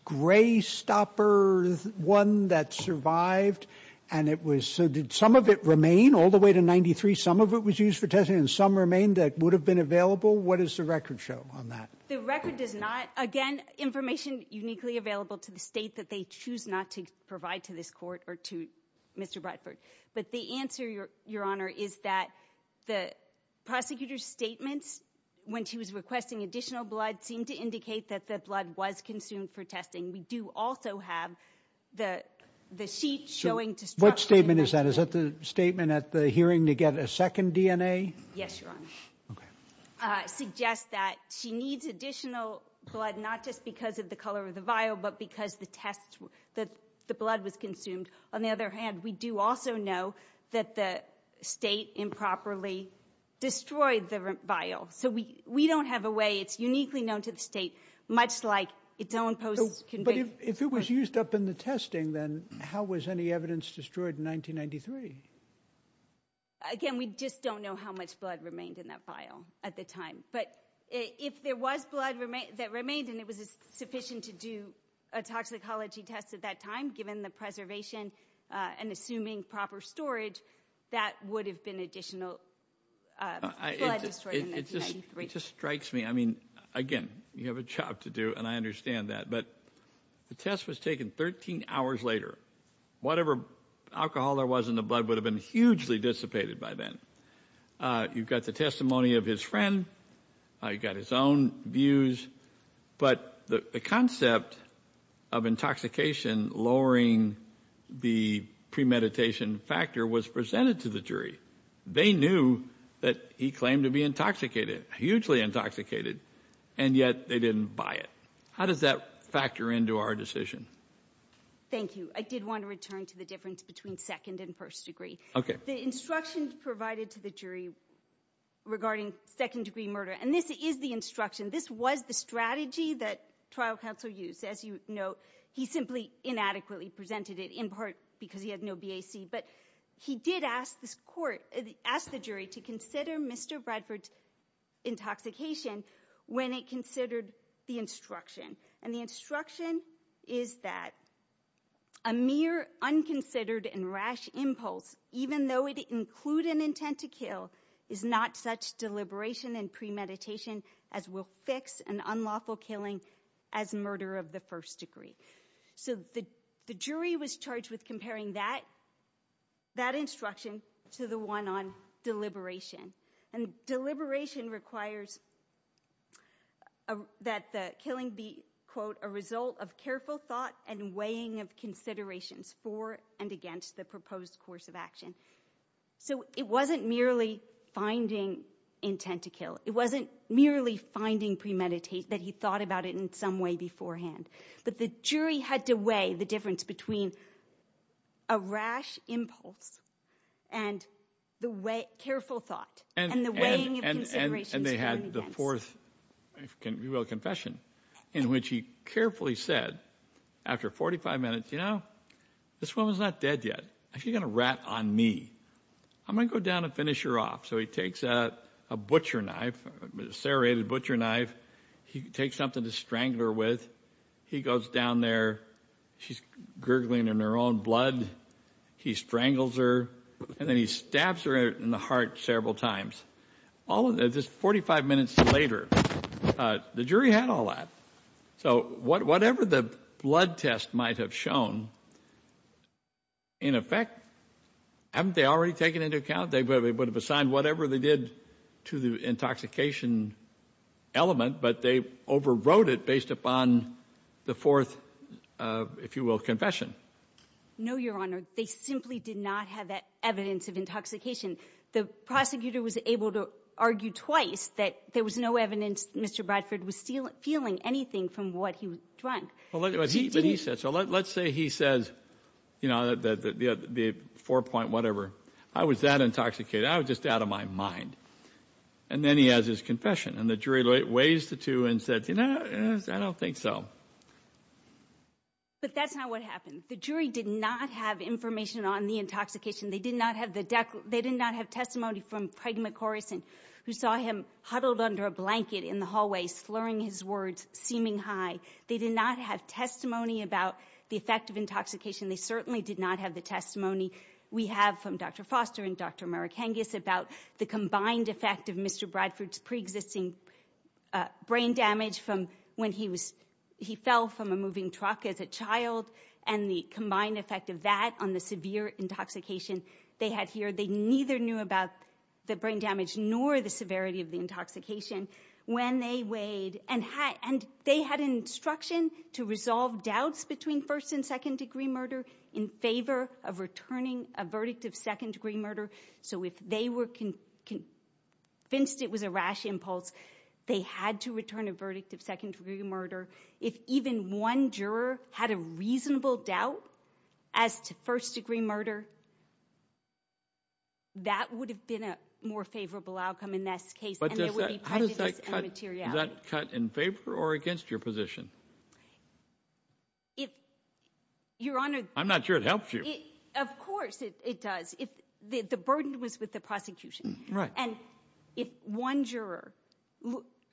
gray-stopper one that survived? And it was... So did some of it remain all the way to 1993? Some of it was used for testing, and some remained that would have been available? What does the record show on that? The record does not. Again, information uniquely available to the state that they choose not to provide to this Court or to Mr. Bradford. But the answer, Your Honor, is that the prosecutor's statements, when she was requesting additional blood, seemed to indicate that the blood was consumed for testing. We do also have the sheet showing destruction... What statement is that? Is that the statement at the hearing to get a second DNA? Yes, Your Honor. Okay. Suggests that she needs additional blood, not just because of the color of the vial, but because the blood was consumed. On the other hand, we do also know that the state improperly destroyed the vial. So we don't have a way. It's uniquely known to the state, much like its own post-conviction... But if it was used up in the testing, then how was any evidence destroyed in 1993? Again, we just don't know how much blood remained in that vial at the time. But if there was blood that remained and it was sufficient to do a toxicology test at that time, given the preservation and assuming proper storage, that would have been additional blood destroyed in 1993. It just strikes me. I mean, again, you have a job to do, and I understand that. But the test was taken 13 hours later. Whatever alcohol there was in the blood would have been hugely dissipated by then. You've got the testimony of his friend. You've got his own views. But the concept of intoxication lowering the premeditation factor was presented to the jury. They knew that he claimed to be intoxicated, hugely intoxicated, and yet they didn't buy it. How does that factor into our decision? Thank you. I did want to return to the difference between second and first degree. The instructions provided to the jury regarding second-degree murder, and this is the instruction. This was the strategy that trial counsel used. As you know, he simply inadequately presented it in part because he had no BAC. But he did ask the jury to consider Mr. Bradford's intoxication when it considered the instruction. And the instruction is that a mere unconsidered and rash impulse, even though it include an intent to kill, is not such deliberation and premeditation as will fix an unlawful killing as murder of the first degree. So the jury was charged with comparing that instruction to the one on deliberation. And deliberation requires that the killing be, quote, a result of careful thought and weighing of considerations for and against the proposed course of action. So it wasn't merely finding intent to kill. It wasn't merely finding premeditation, that he thought about it in some way beforehand. But the jury had to weigh the difference between a rash impulse and careful thought and the weighing of considerations for and against. And they had the fourth, if you will, confession, in which he carefully said after 45 minutes, you know, this woman's not dead yet. Is she going to rat on me? I'm going to go down and finish her off. So he takes a butcher knife, serrated butcher knife. He takes something to strangle her with. He goes down there. She's gurgling in her own blood. He strangles her. And then he stabs her in the heart several times. All of this 45 minutes later, the jury had all that. So whatever the blood test might have shown, in effect, haven't they already taken into account? They would have assigned whatever they did to the intoxication element, but they overrode it based upon the fourth, if you will, confession. No, Your Honor. They simply did not have that evidence of intoxication. The prosecutor was able to argue twice that there was no evidence Mr. Bradford was feeling anything from what he was drunk. But he said so. Let's say he says, you know, the four-point whatever. I was that intoxicated. I was just out of my mind. And then he has his confession, and the jury weighs the two and says, you know, I don't think so. But that's not what happened. The jury did not have information on the intoxication. They did not have testimony from Peg MacHorrison, who saw him huddled under a blanket in the hallway slurring his words, seeming high. They did not have testimony about the effect of intoxication. They certainly did not have the testimony we have from Dr. Foster and Dr. Marikangas about the combined effect of Mr. Bradford's preexisting brain damage from when he fell from a moving truck as a child and the combined effect of that on the severe intoxication they had here. They neither knew about the brain damage nor the severity of the intoxication when they weighed. And they had instruction to resolve doubts between first- and second-degree murder in favor of returning a verdict of second-degree murder. So if they were convinced it was a rash impulse, they had to return a verdict of second-degree murder. If even one juror had a reasonable doubt as to first-degree murder, that would have been a more favorable outcome in this case, and there would be prejudice and immateriality. How does that cut? Is that cut in favor or against your position? If, Your Honor— I'm not sure it helps you. Of course it does. The burden was with the prosecution. Right. And if one juror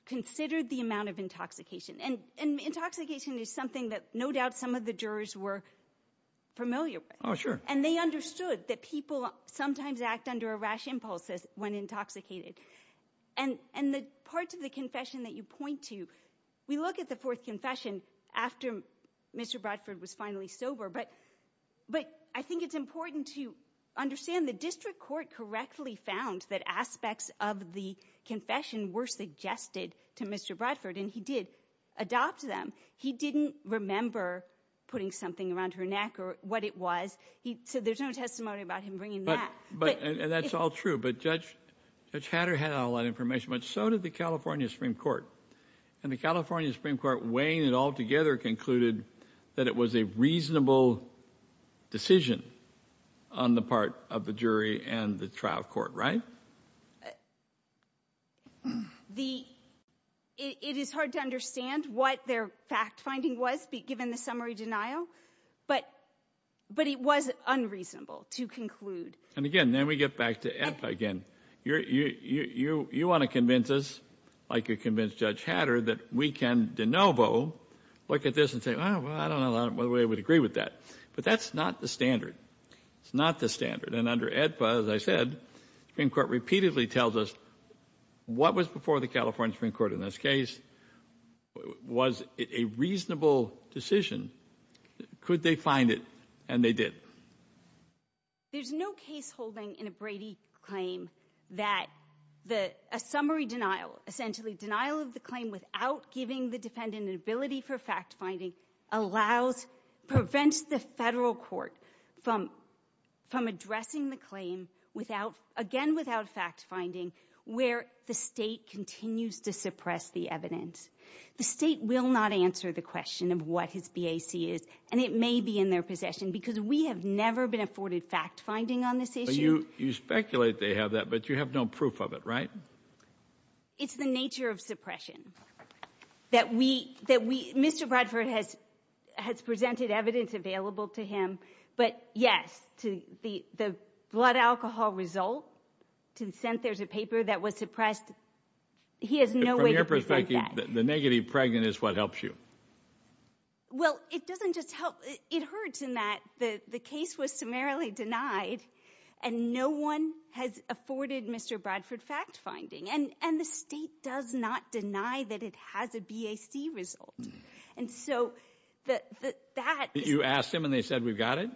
considered the amount of intoxication— and intoxication is something that no doubt some of the jurors were familiar with. Oh, sure. And they understood that people sometimes act under a rash impulse when intoxicated. And the parts of the confession that you point to, we look at the fourth confession after Mr. Bradford was finally sober, but I think it's important to understand the district court correctly found that aspects of the confession were suggested to Mr. Bradford, and he did adopt them. He didn't remember putting something around her neck or what it was. So there's no testimony about him bringing that. But—and that's all true. But Judge Hatter had all that information, but so did the California Supreme Court. And the California Supreme Court, weighing it all together, concluded that it was a reasonable decision on the part of the jury and the trial court, right? The—it is hard to understand what their fact-finding was, given the summary denial, but it was unreasonable to conclude. And again, then we get back to EPPA again. You want to convince us, like you convinced Judge Hatter, that we can de novo look at this and say, well, I don't know whether we would agree with that. But that's not the standard. It's not the standard. And under EPPA, as I said, the Supreme Court repeatedly tells us what was before the California Supreme Court in this case was a reasonable decision. Could they find it? And they did. There's no case holding in a Brady claim that a summary denial, essentially denial of the claim without giving the defendant an ability for fact-finding, allows—prevents the federal court from addressing the claim without— again, without fact-finding, where the state continues to suppress the evidence. The state will not answer the question of what his BAC is, and it may be in their possession because we have never been afforded fact-finding on this issue. You speculate they have that, but you have no proof of it, right? It's the nature of suppression that we—Mr. Bradford has presented evidence available to him. But, yes, to the blood alcohol result, to the extent there's a paper that was suppressed, he has no way to prevent that. From your perspective, the negative pregnant is what helps you. Well, it doesn't just help—it hurts in that the case was summarily denied and no one has afforded Mr. Bradford fact-finding. And the state does not deny that it has a BAC result. And so that— You asked him and they said, we've got it?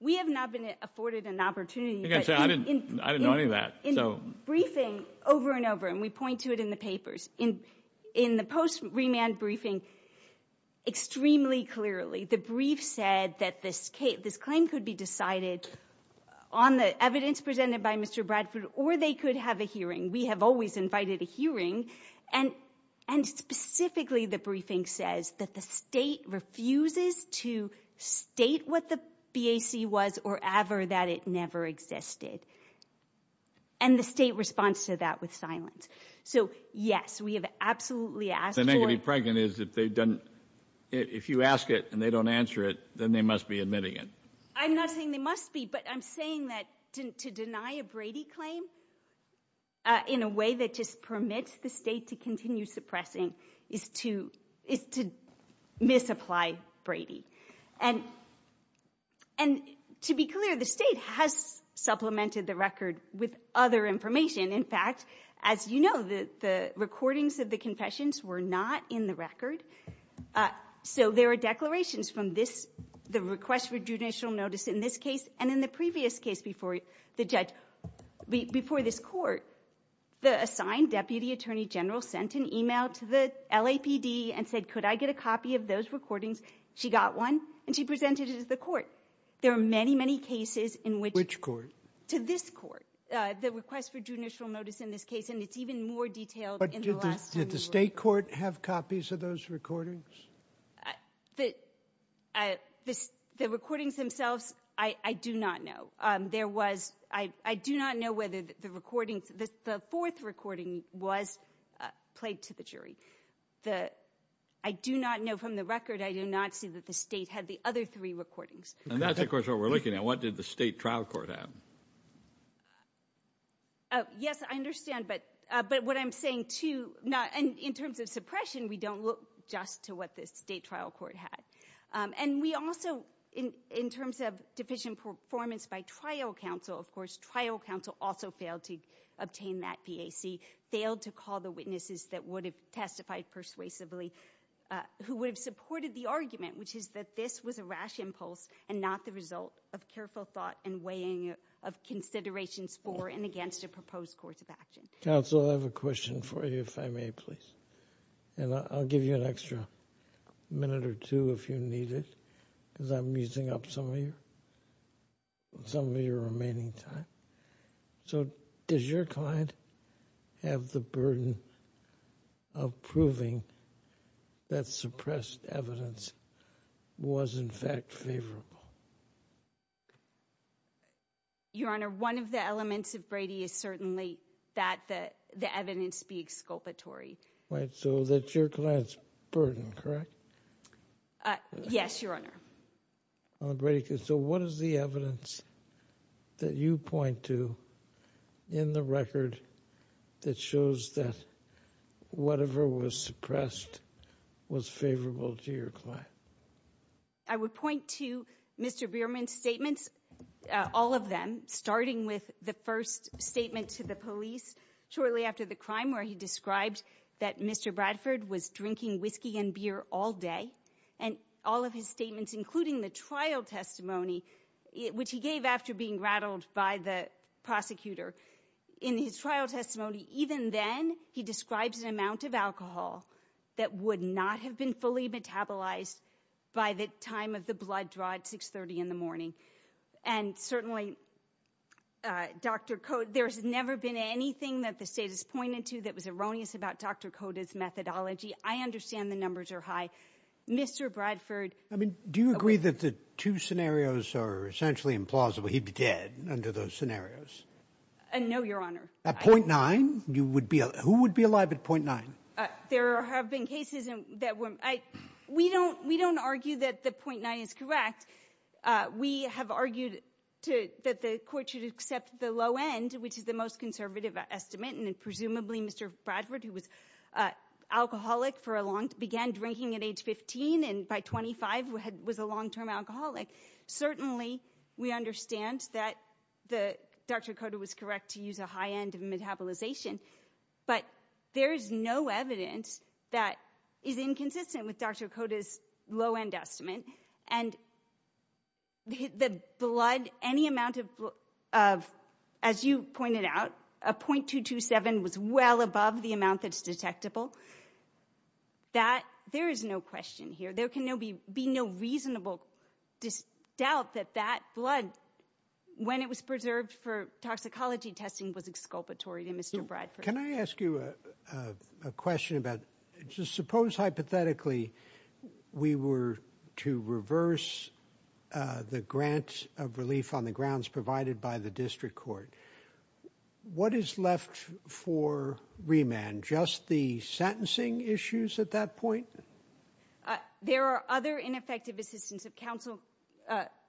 We have not been afforded an opportunity. I didn't know any of that. In briefing over and over, and we point to it in the papers, in the post-remand briefing, extremely clearly, the brief said that this claim could be decided on the evidence presented by Mr. Bradford or they could have a hearing. We have always invited a hearing. And specifically the briefing says that the state refuses to state what the BAC was or ever that it never existed. And the state responds to that with silence. So, yes, we have absolutely asked for— The negative pregnant is if you ask it and they don't answer it, then they must be admitting it. I'm not saying they must be, but I'm saying that to deny a Brady claim in a way that just permits the state to continue suppressing is to misapply Brady. And to be clear, the state has supplemented the record with other information. In fact, as you know, the recordings of the confessions were not in the record. So there are declarations from this, the request for judicial notice in this case and in the previous case before the judge, before this court. The assigned deputy attorney general sent an email to the LAPD and said, could I get a copy of those recordings? She got one, and she presented it at the court. There are many, many cases in which— To this court. The request for judicial notice in this case, and it's even more detailed in the last— But did the State court have copies of those recordings? The recordings themselves, I do not know. There was—I do not know whether the recordings—the fourth recording was played to the jury. The—I do not know from the record. I do not see that the State had the other three recordings. And that's, of course, what we're looking at. What did the State trial court have? Yes, I understand, but what I'm saying, too, in terms of suppression, we don't look just to what the State trial court had. And we also, in terms of deficient performance by trial counsel, of course, trial counsel also failed to obtain that PAC, failed to call the witnesses that would have testified persuasively, who would have supported the argument, which is that this was a rash impulse and not the result of careful thought and weighing of considerations for and against a proposed course of action. Counsel, I have a question for you, if I may, please. And I'll give you an extra minute or two if you need it, because I'm using up some of your remaining time. So does your client have the burden of proving that suppressed evidence was, in fact, favorable? Your Honor, one of the elements of Brady is certainly that the evidence be exculpatory. Right, so that's your client's burden, correct? Yes, Your Honor. So what is the evidence that you point to in the record that shows that whatever was suppressed was favorable to your client? I would point to Mr. Bierman's statements, all of them, starting with the first statement to the police shortly after the crime where he described that Mr. Bradford was drinking whiskey and beer all day. And all of his statements, including the trial testimony, which he gave after being rattled by the prosecutor, in his trial testimony, even then, he describes an amount of alcohol that would not have been fully metabolized by the time of the blood draw at 6.30 in the morning. And certainly, Dr. Cote, there's never been anything that the state has pointed to that was erroneous about Dr. Cote's methodology. I understand the numbers are high. Mr. Bradford... I mean, do you agree that the two scenarios are essentially implausible? He'd be dead under those scenarios. No, Your Honor. At .9? Who would be alive at .9? There have been cases that were... We don't argue that the .9 is correct. We have argued that the court should accept the low end, which is the most conservative estimate, and presumably Mr. Bradford, who was an alcoholic for a long time, began drinking at age 15 and by 25 was a long-term alcoholic. Certainly we understand that Dr. Cote was correct to use a high end of metabolization, but there is no evidence that is inconsistent with Dr. Cote's low end estimate. And the blood, any amount of, as you pointed out, a .227 was well above the amount that's detectable. There is no question here. There can be no reasonable doubt that that blood, when it was preserved for toxicology testing, was exculpatory to Mr. Bradford. Can I ask you a question about, suppose hypothetically we were to reverse the grant of relief on the grounds provided by the district court. What is left for remand? Just the sentencing issues at that point? There are other ineffective assistance of counsel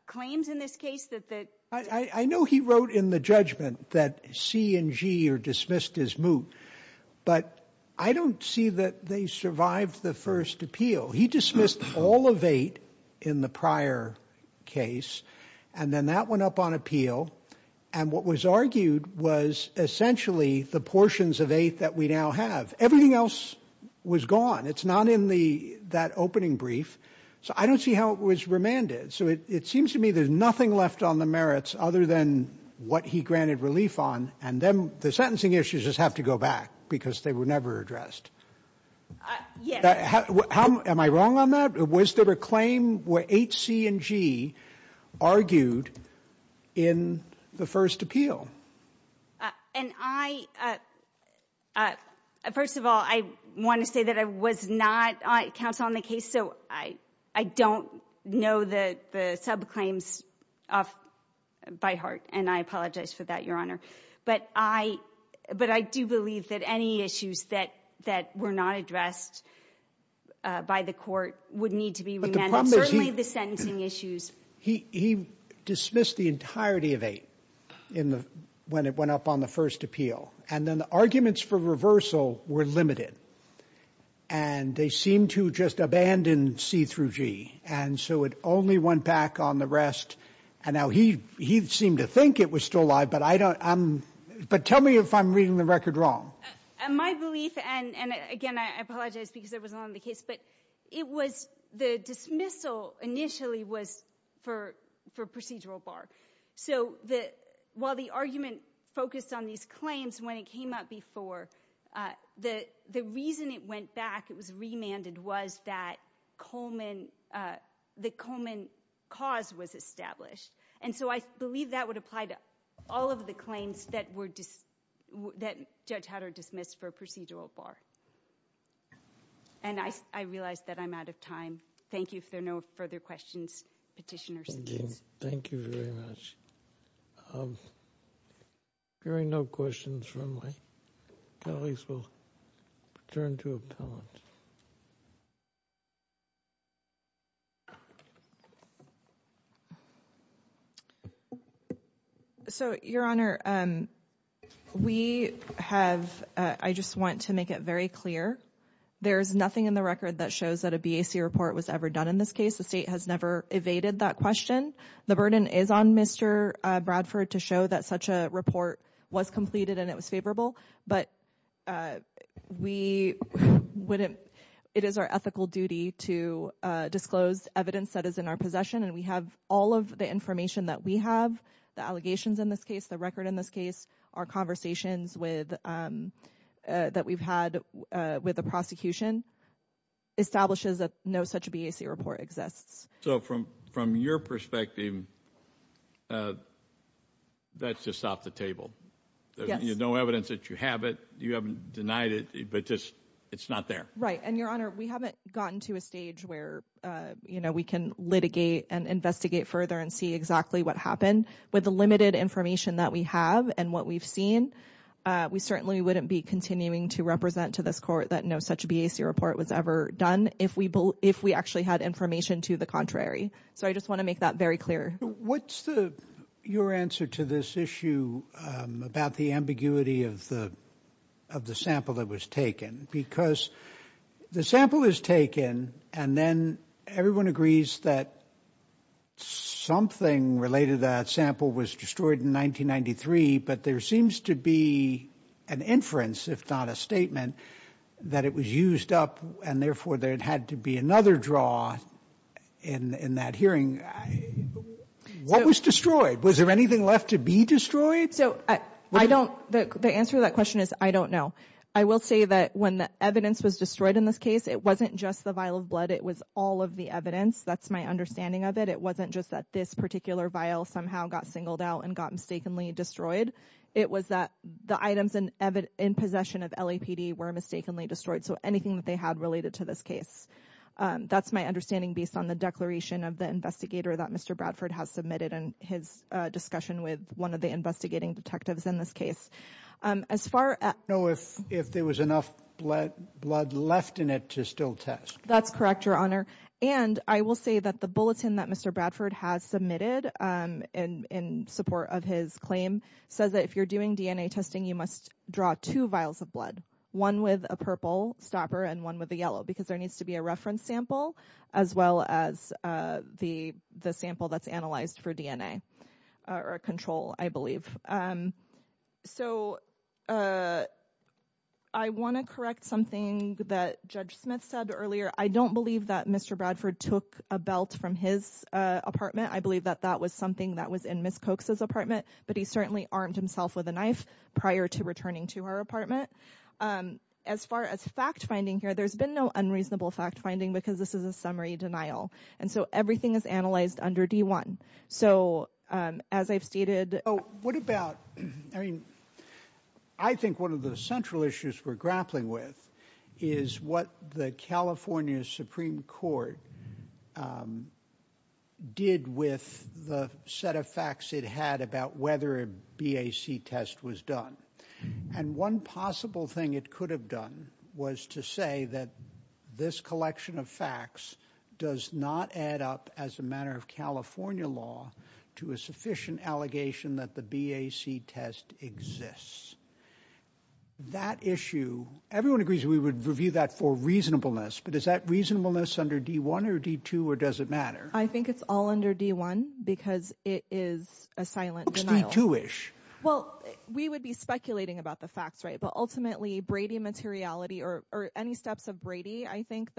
claims in this case that the... I know he wrote in the judgment that C and G are dismissed as moot, but I don't see that they survived the first appeal. He dismissed all of eight in the prior case, and then that went up on appeal. And what was argued was essentially the portions of eight that we now have. Everything else was gone. It's not in that opening brief. So I don't see how it was remanded. So it seems to me there's nothing left on the merits other than what he granted relief on, and then the sentencing issues just have to go back because they were never addressed. Yes. Am I wrong on that? Was there a claim where H, C, and G argued in the first appeal? First of all, I want to say that I was not counsel on the case, so I don't know the subclaims by heart, and I apologize for that, Your Honor. But I do believe that any issues that were not addressed by the court would need to be remanded, certainly the sentencing issues. He dismissed the entirety of eight when it went up on the first appeal, and then the arguments for reversal were limited, and they seemed to just abandon C through G, and so it only went back on the rest. And now he seemed to think it was still live, but tell me if I'm reading the record wrong. My belief, and again I apologize because I was not on the case, but the dismissal initially was for procedural bar. So while the argument focused on these claims when it came up before, the reason it went back, it was remanded, was that the Coleman cause was established. And so I believe that would apply to all of the claims that Judge Hatter dismissed for procedural bar. And I realize that I'm out of time. Thank you. If there are no further questions, Petitioner secedes. Thank you very much. Hearing no questions from my colleagues, we'll turn to appellants. So, Your Honor, we have, I just want to make it very clear, there is nothing in the record that shows that a BAC report was ever done in this case. The state has never evaded that question. The burden is on Mr. Bradford to show that such a report was completed and it was favorable, but it is our ethical duty to disclose evidence that is in our possession, and we have all of the information that we have, the allegations in this case, the record in this case, our conversations that we've had with the prosecution, establishes that no such BAC report exists. So from your perspective, that's just off the table. There's no evidence that you have it. You haven't denied it, but just it's not there. Right. And, Your Honor, we haven't gotten to a stage where, you know, we can litigate and investigate further and see exactly what happened. With the limited information that we have and what we've seen, we certainly wouldn't be continuing to represent to this court that no such BAC report was ever done if we actually had information to the contrary. So I just want to make that very clear. What's your answer to this issue about the ambiguity of the sample that was taken? Because the sample is taken and then everyone agrees that something related to that sample was destroyed in 1993, but there seems to be an inference, if not a statement, that it was used up and therefore there had to be another draw in that hearing. What was destroyed? Was there anything left to be destroyed? So I don't, the answer to that question is I don't know. I will say that when the evidence was destroyed in this case, it wasn't just the vial of blood. It was all of the evidence. That's my understanding of it. It wasn't just that this particular vial somehow got singled out and got mistakenly destroyed. It was that the items in possession of LAPD were mistakenly destroyed. So anything that they had related to this case. That's my understanding based on the declaration of the investigator that Mr. Bradford has submitted and his discussion with one of the investigating detectives in this case. I don't know if there was enough blood left in it to still test. That's correct, Your Honor. And I will say that the bulletin that Mr. Bradford has submitted in support of his claim says that if you're doing DNA testing, you must draw two vials of blood. One with a purple stopper and one with a yellow because there needs to be a reference sample as well as the sample that's analyzed for DNA or control, I believe. So I want to correct something that Judge Smith said earlier. I don't believe that Mr. Bradford took a belt from his apartment. I believe that that was something that was in Ms. Cokes' apartment. But he certainly armed himself with a knife prior to returning to her apartment. As far as fact-finding here, there's been no unreasonable fact-finding because this is a summary denial. And so everything is analyzed under D1. So as I've stated— Oh, what about—I mean, I think one of the central issues we're grappling with is what the California Supreme Court did with the set of facts it had about whether a BAC test was done. And one possible thing it could have done was to say that this collection of facts does not add up as a matter of California law to a sufficient allegation that the BAC test exists. That issue—everyone agrees we would review that for reasonableness, but is that reasonableness under D1 or D2 or does it matter? I think it's all under D1 because it is a silent denial. Oops, D2-ish. Well, we would be speculating about the facts, right? But ultimately, Brady materiality or any steps of Brady, I think,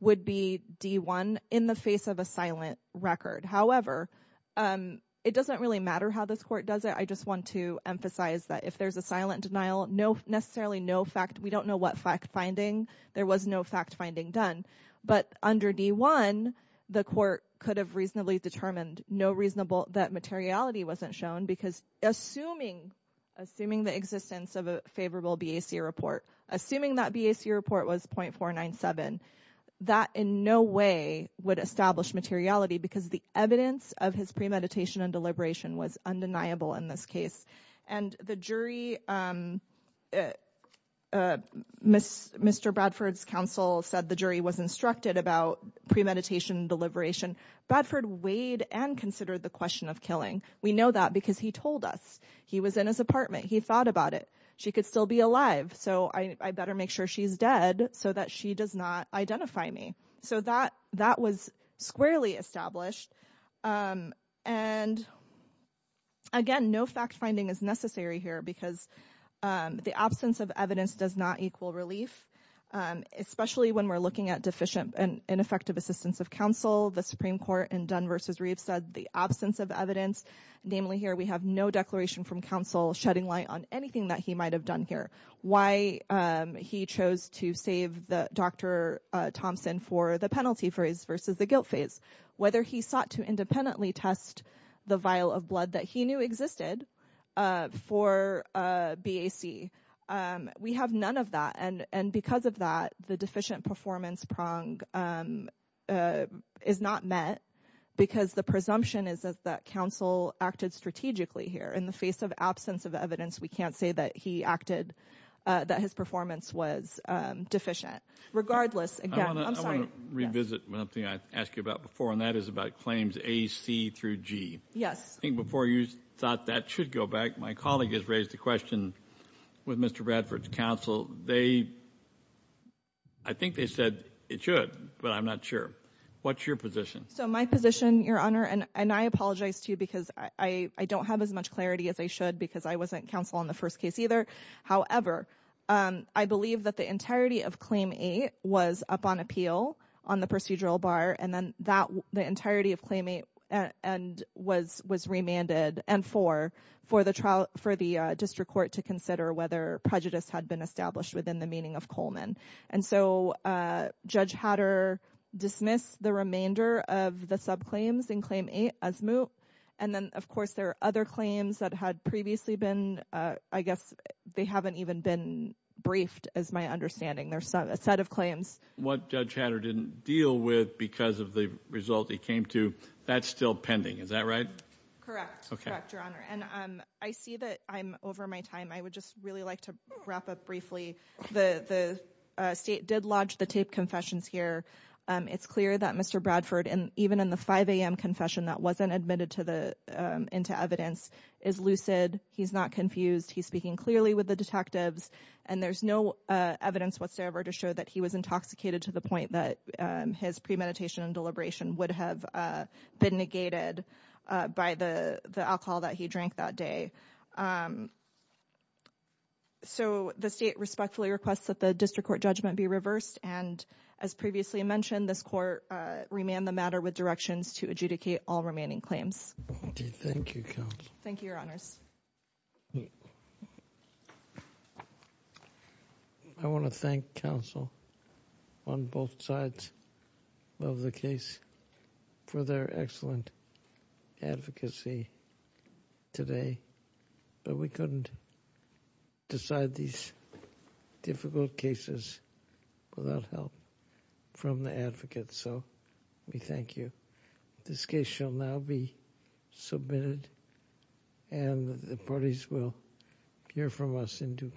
would be D1 in the face of a silent record. However, it doesn't really matter how this court does it. I just want to emphasize that if there's a silent denial, necessarily no fact—we don't know what fact-finding. There was no fact-finding done. But under D1, the court could have reasonably determined that materiality wasn't shown because assuming the existence of a favorable BAC report, assuming that BAC report was .497, that in no way would establish materiality because the evidence of his premeditation and deliberation was undeniable in this case. And the jury—Mr. Bradford's counsel said the jury was instructed about premeditation and deliberation. Bradford weighed and considered the question of killing. We know that because he told us. He was in his apartment. He thought about it. She could still be alive, so I better make sure she's dead so that she does not identify me. So that was squarely established. And again, no fact-finding is necessary here because the absence of evidence does not equal relief, especially when we're looking at deficient and ineffective assistance of counsel. The Supreme Court in Dunn v. Reeves said the absence of evidence, namely here we have no declaration from counsel shedding light on anything that he might have done here. Why he chose to save Dr. Thompson for the penalty phrase versus the guilt phase. Whether he sought to independently test the vial of blood that he knew existed for BAC. We have none of that, and because of that, the deficient performance prong is not met because the presumption is that counsel acted strategically here. In the face of absence of evidence, we can't say that he acted, that his performance was deficient. Regardless, again, I'm sorry. I want to revisit one thing I asked you about before, and that is about claims A, C, through G. Yes. I think before you thought that should go back, my colleague has raised the question with Mr. Bradford's counsel. They, I think they said it should, but I'm not sure. What's your position? So my position, Your Honor, and I apologize too because I don't have as much clarity as I should because I wasn't counsel on the first case either. However, I believe that the entirety of claim A was up on appeal on the procedural bar, and then the entirety of claim A was remanded and for the district court to consider whether prejudice had been established within the meaning of Coleman. And so Judge Hatter dismissed the remainder of the subclaims in claim A as moot. And then, of course, there are other claims that had previously been, I guess, they haven't even been briefed as my understanding. There's a set of claims. What Judge Hatter didn't deal with because of the result he came to, that's still pending. Is that right? Correct. Correct, Your Honor. And I see that I'm over my time. I would just really like to wrap up briefly. The State did lodge the taped confessions here. It's clear that Mr. Bradford, even in the 5 a.m. confession that wasn't admitted into evidence, is lucid. He's not confused. He's speaking clearly with the detectives. And there's no evidence whatsoever to show that he was intoxicated to the point that his premeditation and deliberation would have been negated by the alcohol that he drank that day. So the State respectfully requests that the District Court judgment be reversed. And as previously mentioned, this Court remanded the matter with directions to adjudicate all remaining claims. Thank you, Counsel. Thank you, Your Honors. I want to thank counsel on both sides of the case for their excellent advocacy today. But we couldn't decide these difficult cases without help from the advocates, so we thank you. This case shall now be submitted, and the parties will hear from us in due course.